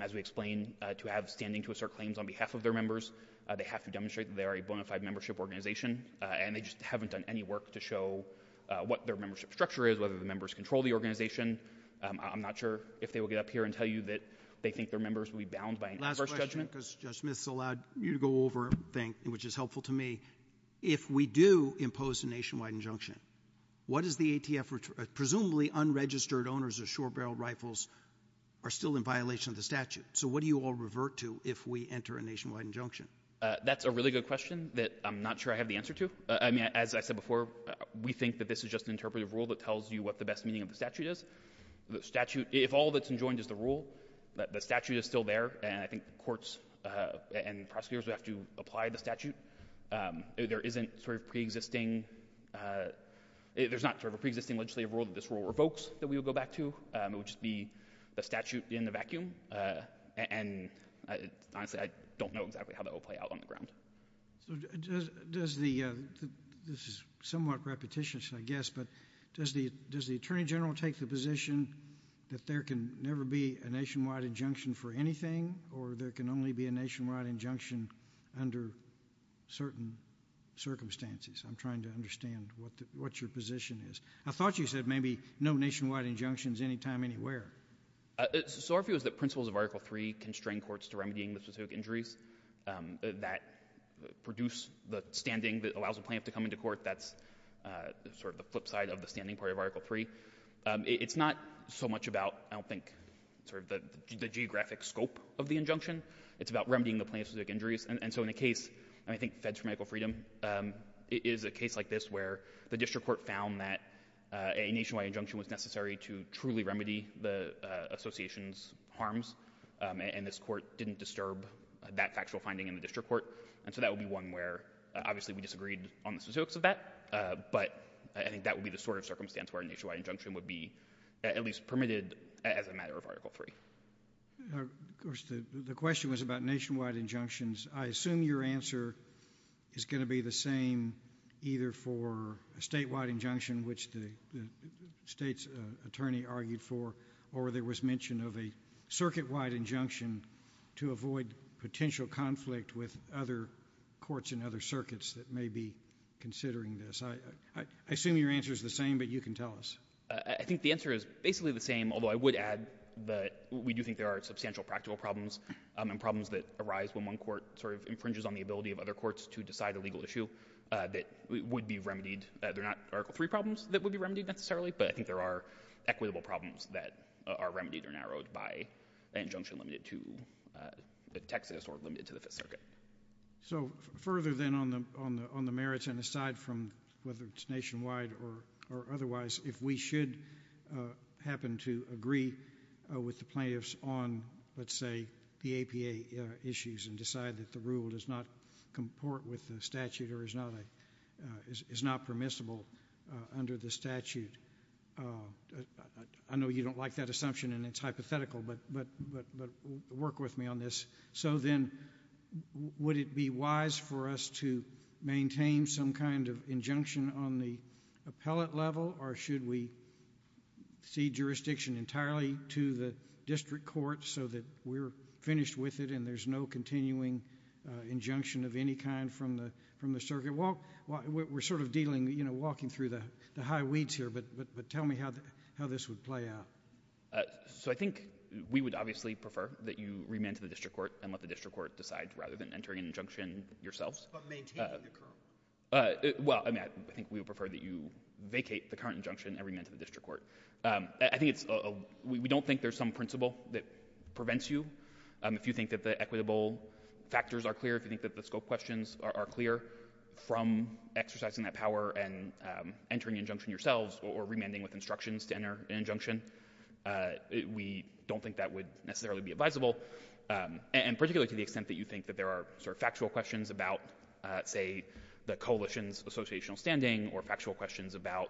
as we explained, to have standing to assert claims on behalf of their members. They have to demonstrate that they are a bonafide membership organization, and they just haven't done any work to show what their membership structure is, whether the members control the organization. I'm not sure if they will get up here and tell you that they think their members will be bound by an inverse judgment. Last question, because Judge Smith's allowed you to go over, which is helpful to me. If we do impose a nationwide injunction, what does the ATF, presumably unregistered owners of short-barreled rifles, are still in violation of the statute? So what do you all revert to if we enter a nationwide injunction? That's a really good question that I'm not sure I have the answer to. I mean, as I said before, we think that this is just an interpretive rule that tells you what the best meaning of the statute is. The statute, if all that's enjoined is the rule, the statute is still there, and I think the courts and pre-existing, there's not sort of a pre-existing legislative rule, just rule revokes that we will go back to. It would just be a statute in the vacuum, and honestly, I don't know exactly how that will play out on the ground. This is somewhat repetitious, I guess, but does the Attorney General take the position that there can never be a nationwide injunction for anything, or there can only be a nationwide injunction under certain circumstances? I'm trying to understand what your position is. I thought you said maybe no nationwide injunctions anytime, anywhere. So our view is that principles of Article III constrain courts to remedying the specific injuries that produce the standing that allows a plaintiff to come into court. That's sort of the flip side of the standing part of Article III. It's not so much about, I don't know, the nature of the injunction. It's about remedying the plaintiff's injuries, and so in a case, and I think Feds for Medical Freedom, is a case like this where the district court found that a nationwide injunction was necessary to truly remedy the association's harms, and this court didn't disturb that factual finding in the district court, and so that would be one where, obviously, we disagreed on the specifics of that, but I think that would be the sort of circumstance where a nationwide injunction would be at least permitted as a matter of Article III. Of course, the question was about nationwide injunctions. I assume your answer is going to be the same either for a statewide injunction, which the state's attorney argued for, or there was mention of a circuit-wide injunction to avoid potential conflict with other courts in other circuits that may be considering this. I assume your answer is the same, but you can tell us. I think the answer is basically the same, although I would add that we do think there are substantial practical problems and problems that arise when one court sort of infringes on the ability of other courts to decide a legal issue that would be remedied. There are not Article III problems that would be remedied necessarily, but I think there are equitable problems that are remedied or narrowed by an injunction limited to the Texas or limited to the Fifth Circuit. So further then on the merits and aside from whether it's nationwide or otherwise, if we should happen to agree with the plaintiffs on, let's say, PAPA issues and decide that the rule does not comport with the statute or is not permissible under the statute, I know you don't like that assumption and it's hypothetical, but work with me on this. So then, would it be wise for us to maintain some kind of injunction on the appellate level or should we cede jurisdiction entirely to the district court so that we're finished with it and there's no continuing injunction of any kind from the circuit? Well, we're sort of dealing, you know, walking through the high weeds here, but tell me how this would play out. So I think we would prefer that you remand to the district court and let the district court decide rather than entering an injunction yourselves. But maintain the current injunction? Well, I think we would prefer that you vacate the current injunction and remand to the district court. We don't think there's some principle that prevents you. If you think that the equitable factors are clear, if you think that the scope questions are clear from exercising that power and entering injunction yourselves or remanding with instructions to enter an injunction, we don't think that would necessarily be advisable. And particularly to the extent that you think that there are sort of factual questions about, say, the coalition's associational standing or factual questions about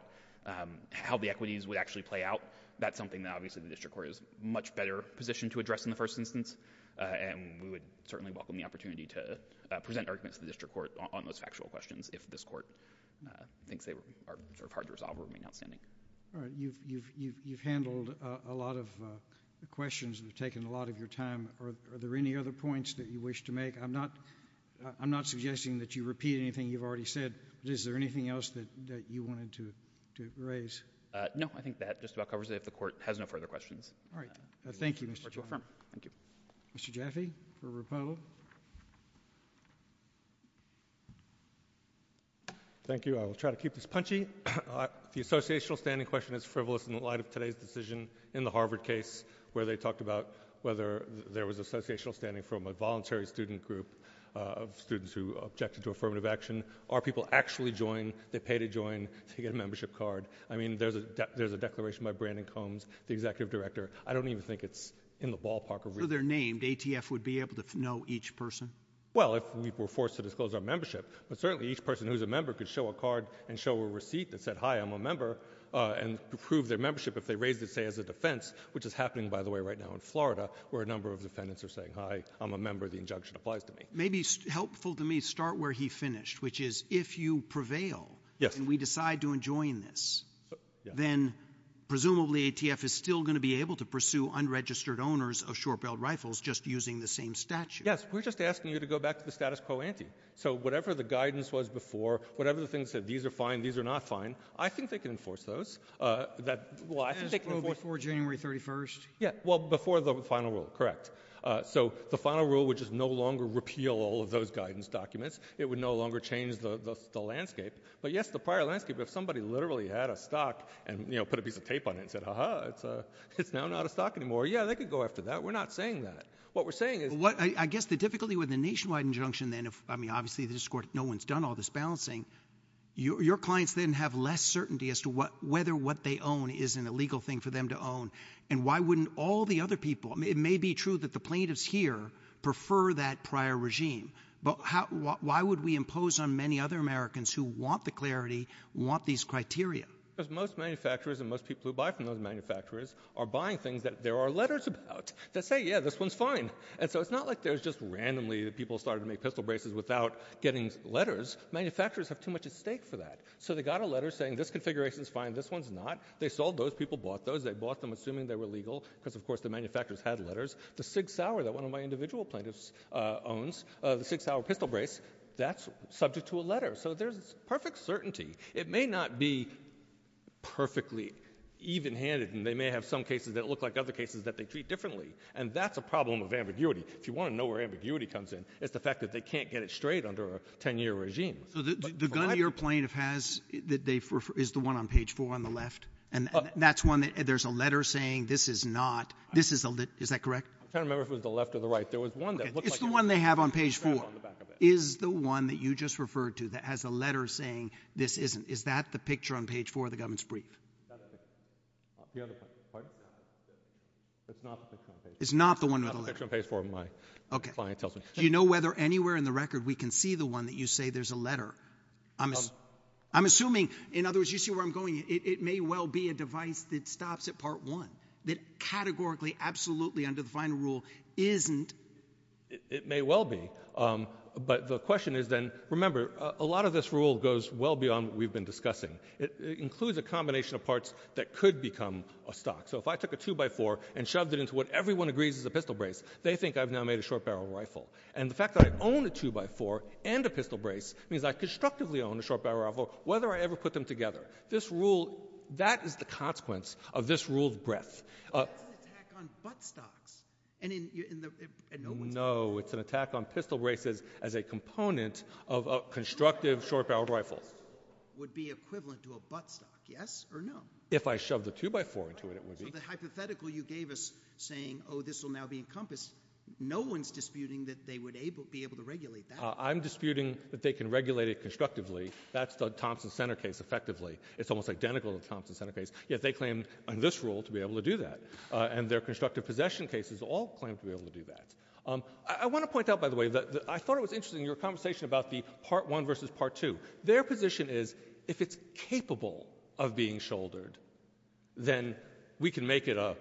how the equities would actually play out, that's something that obviously the district court is much better positioned to address in the first instance. And we would certainly welcome the opportunity to present arguments to the district court on those factual questions if this court thinks they are sort of hard to resolve or remain outstanding. You've handled a lot of questions and taken a lot of your time. Are there any other points that you wish to make? I'm not suggesting that you repeat anything you've already said. Is there anything else that you wanted to raise? No, I think that just about covers it. The court has no further questions. All right. Thank you, Mr. Jaffe. Mr. Jaffe, for rebuttal. Thank you. I will try to keep this punchy. The associational standing question is frivolous in the light of today's decision in the Harvard case where they talked about whether there was associational standing from a voluntary student group of students who objected to affirmative action. Are people actually joining? They pay to join to get a membership card. I mean, there's a declaration by Brandon Combs, the executive director. I don't even think it's in the ballpark of reason. So they're named. ATF would be able to know each person? Well, if we were forced to disclose our membership, but certainly each person who's a member could show a card and show a receipt that said, hi, I'm a member and prove their membership if they raised it, say, as a defense, which is happening, by the way, right now in Florida where a number of defendants are saying, hi, I'm a member. The injunction applies to me. Maybe helpful to me, start where he finished, which is if you prevail and we decide to join this, then presumably ATF is still going to be able to pursue unregistered owners of short-barreled statutes. Yes, we're just asking you to go back to the status quo ante. So whatever the guidance was before, whatever the things that these are fine, these are not fine, I think they can enforce those. Before January 31st? Yeah, well, before the final rule, correct. So the final rule, which is no longer repeal all of those guidance documents, it would no longer change the landscape. But yes, the prior landscape, if somebody literally had a stock and put a piece of tape on it and said, ha ha, it's now not a stock anymore. Yeah, they could go after that. We're not saying that. What we're saying is what I guess the difficulty with the nationwide injunction, then if I mean, obviously, the discourse, no one's done all this balancing your clients, then have less certainty as to what whether what they own is an illegal thing for them to own. And why wouldn't all the other people? It may be true that the plaintiffs here prefer that prior regime. But how why would we impose on many other Americans who want the clarity, want these criteria? Because most manufacturers and most people who buy from other manufacturers are buying things that there are letters about that say, yeah, this one's fine. And so it's not like there's just randomly people started to make pistol braces without getting letters. Manufacturers have too much at stake for that. So they got a letter saying this configuration is fine. This one's not. They sold those people, bought those. They bought them, assuming they were legal, because, of course, the manufacturers had letters. The Sig Sauer that one of my individual plaintiffs owns, the Sig Sauer pistol brace, that's subject to a letter. So there's perfect certainty. It may not be perfectly even handed. And they may have some cases that look like other cases that they treat differently. And that's a problem of ambiguity. If you want to know where ambiguity comes in, it's the fact that they can't get it straight under a 10 year regime. So the gun your plaintiff has that they prefer is the one on page four on the left. And that's one that there's a letter saying this is not this is a is that correct? I can't remember if it was the left or the right. There was one that it's the one they have on page four is the one that you just referred to that has a letter saying this isn't. Is that the picture on page four of the government's brief? It's not the one on page four. My client doesn't. Do you know whether anywhere in the record we can see the one that you say there's a letter? I'm assuming in other words, you see where I'm going. It may well be a device that stops at part one that categorically, absolutely undefined rule isn't. It may well be. But the question is, and remember, a lot of this rule goes well beyond what we've been discussing. It includes a combination of parts that could become a stock. So if I took a two by four and shoved it into what everyone agrees is a pistol brace, they think I've now made a short barrel rifle. And the fact that I own a two by four and a pistol brace means I constructively own a short barrel rifle, whether I ever put them together. This rule, that is the consequence of this ruled breath. It's an attack on buttstocks. No, it's an attack on pistol braces as a component of a constructive short barrel rifle. It would be equivalent to a buttstock, yes or no? If I shoved a two by four into it, it would be. The hypothetical you gave us saying, oh, this will now be encompassed. No one's disputing that they would be able to regulate that. I'm disputing that they can regulate it constructively. That's the Thompson center case effectively. It's almost identical to the Thompson center case. Yet they claim under this rule to be able to do that. And their constructive possession cases all claim to be able to do that. I want to point out, by the way, that I thought it was interesting in your conversation about the part one versus part two. Their position is, if it's capable of being shouldered, then we can make it a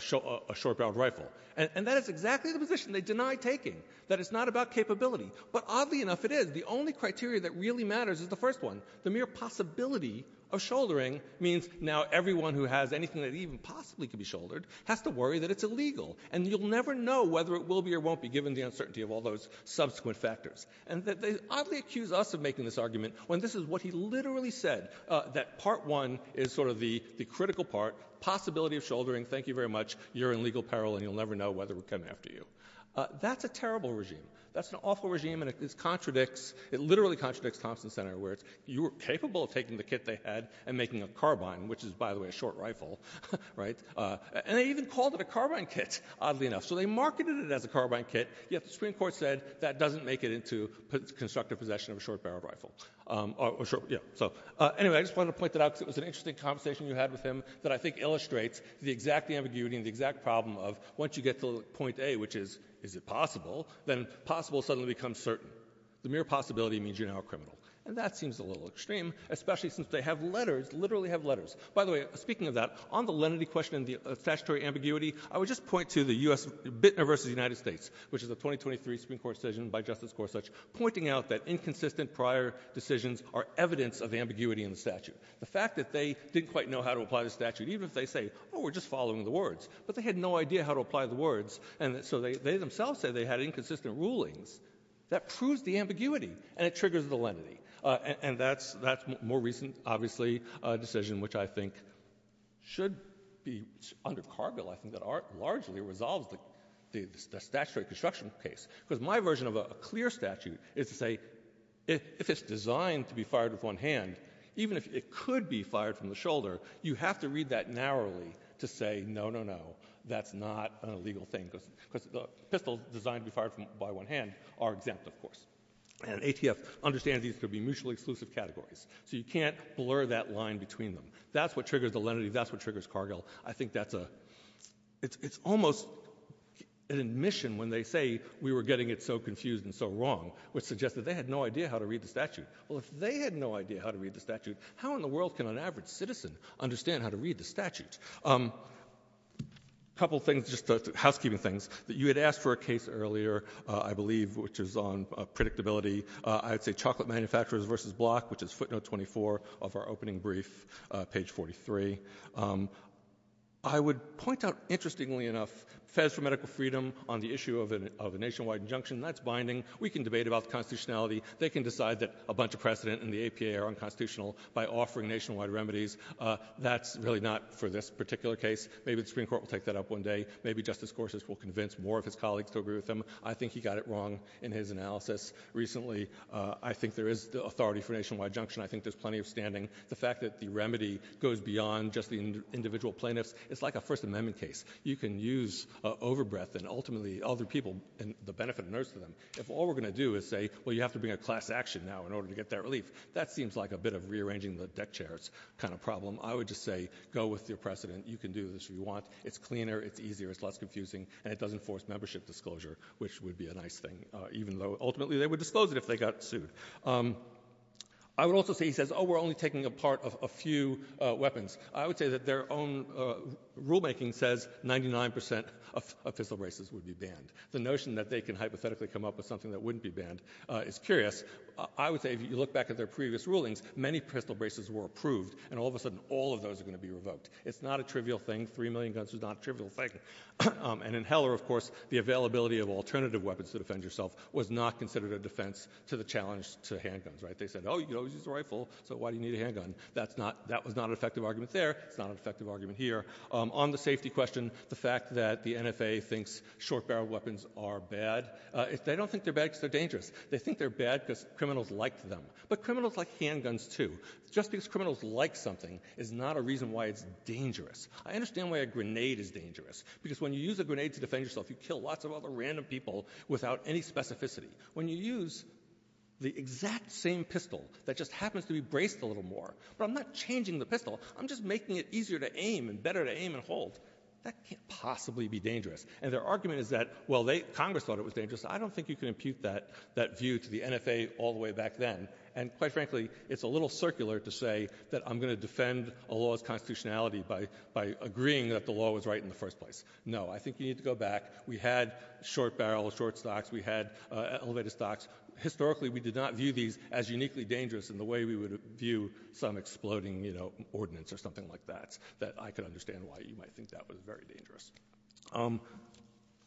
short barrel rifle. And that is exactly the position they deny taking, that it's not about capability. But oddly enough, it is. The only criteria that really matters is the first one. The mere possibility of shouldering means now everyone who has anything that even possibly could be shouldered has to worry that it's illegal. And you'll never know whether it will be or won't be, given the uncertainty of all those subsequent factors. And they oddly accuse us of making this argument when this is what he literally said, that part one is sort of the critical part, possibility of shouldering. Thank you very much. You're in legal peril, and you'll never know whether we're coming after you. That's a terrible regime. That's an awful regime, and it literally contradicts where you were capable of taking the kit they had and making a carbine, which is, by the way, a short rifle, right? And they even called it a carbine kit, oddly enough. So they marketed it as a carbine kit, yet the Supreme Court said that doesn't make it into constructive possession of a short barrel rifle. Anyway, I just wanted to point that out. It was an interesting conversation you had with him that I think illustrates the exact ambiguity and the exact problem of, once you get to point A, which is, is it possible, then possible suddenly becomes certain. The mere possibility means you're now a criminal. And that seems a little extreme, especially since they have letters, literally have letters. By the way, speaking of that, on the lenity question, the statutory ambiguity, I would just point to the University of the United States, which is a 2023 Supreme Court decision by Justice Gorsuch, pointing out that inconsistent prior decisions are evidence of ambiguity in the statute. The fact that they didn't quite know how to apply the statute, even if they say, oh, we're just following the words, but they had no idea how to apply the words. And so they themselves said they had inconsistent rulings. That proves the ambiguity, and it triggers the lenity. And that's more recent, obviously, a decision which I think should be under cargo, I think, that largely resolves the statutory construction case. Because my version of a clear statute is to say, if it's designed to be fired with one hand, even if it could be fired from the shoulder, you have to read that narrowly to say, no, no, no, that's not a legal thing. Because pistols designed to be fired by one hand are exempt, of course. And ATF understands these to be mutually exclusive categories. So you can't blur that line between them. That's what triggers the lenity. That's what triggers cargo. I think that's a, it's almost an admission when they say, we were getting it so confused and so wrong, which suggests that they had no idea how to read the statute. Well, if they had no idea how to read the statute, how in the world can an average citizen understand how to read the statute? A couple things, just housekeeping things. You had asked for a case earlier, I believe, which is on predictability. I would say Chocolate Manufacturers versus Block, which is footnote 24 of our opening brief, page 43. I would point out, interestingly enough, feds for medical freedom on the issue of a nationwide injunction, that's binding. We can debate about the constitutionality. They can decide that a bunch of precedent in the APA are unconstitutional by offering nationwide remedies. That's really not for this particular case. Maybe the Supreme Court will take that up one day. Maybe Justice Gorsuch will convince more of his colleagues to agree with him. I think he got it wrong in his analysis recently. I think there is the authority for nationwide injunction. I think there's plenty of standing. The fact that the remedy goes beyond just the individual plaintiffs, it's like a First Amendment case. You can use overbreath and ultimately all the people and the benefit of nursing them. If all we're going to do is say, well, you have to bring a class action now in order to get that relief, that seems like a bit of rearranging the deck chairs kind of problem. I would just say, go with your precedent. You can do this if you want. It's cleaner, it's easier, it's less confusing, and it doesn't force membership disclosure, which would be a nice thing, even though ultimately they would disclose it if they got sued. I would also say he says, oh, we're only taking a part of a few weapons. I would say that their own rulemaking says 99 percent of pencil braces would be banned. The notion that they can hypothetically come up with something that wouldn't be banned is curious. I would say if you look back at their previous rulings, many pencil braces were approved, and all of a sudden all of those are going to be revoked. It's not a trivial thing. Three million guns is not a trivial thing. And in Heller, of course, the availability of alternative weapons to defend yourself was not considered a defense to the challenge to handguns, right? They said, oh, you can always use a rifle, but why do you need a handgun? That was not an effective argument there, not an effective argument here. On the safety question, the fact that the NFA thinks short barrel weapons are bad, they don't think they're bad because they're dangerous. They think they're bad because criminals like them. But criminals like handguns, too. Just because criminals like something is not a reason why it's dangerous. I understand why a grenade is dangerous, because when you use a grenade to defend yourself, you kill lots of other random people without any specificity. When you use the exact same pistol that just happens to be braced a little more, I'm not changing the pistol. I'm just making it easier to aim and better to aim and hold. That can't possibly be dangerous. And their argument is that, well, Congress thought it was dangerous. I don't think you can impute that view to the little circular to say that I'm going to defend a law's constitutionality by agreeing that the law was right in the first place. No, I think you need to go back. We had short barrels, short stocks. We had elevated stocks. Historically, we did not view these as uniquely dangerous in the way we would view some exploding ordinance or something like that, that I could understand why you might think that was very dangerous.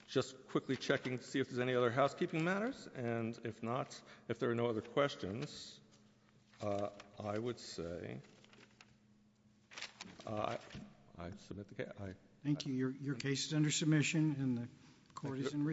Just quickly checking to see if there's any housekeeping matters, and if not, if there are no other questions, I would say I submit the case. Thank you. Your case is under submission, and the court is in recess.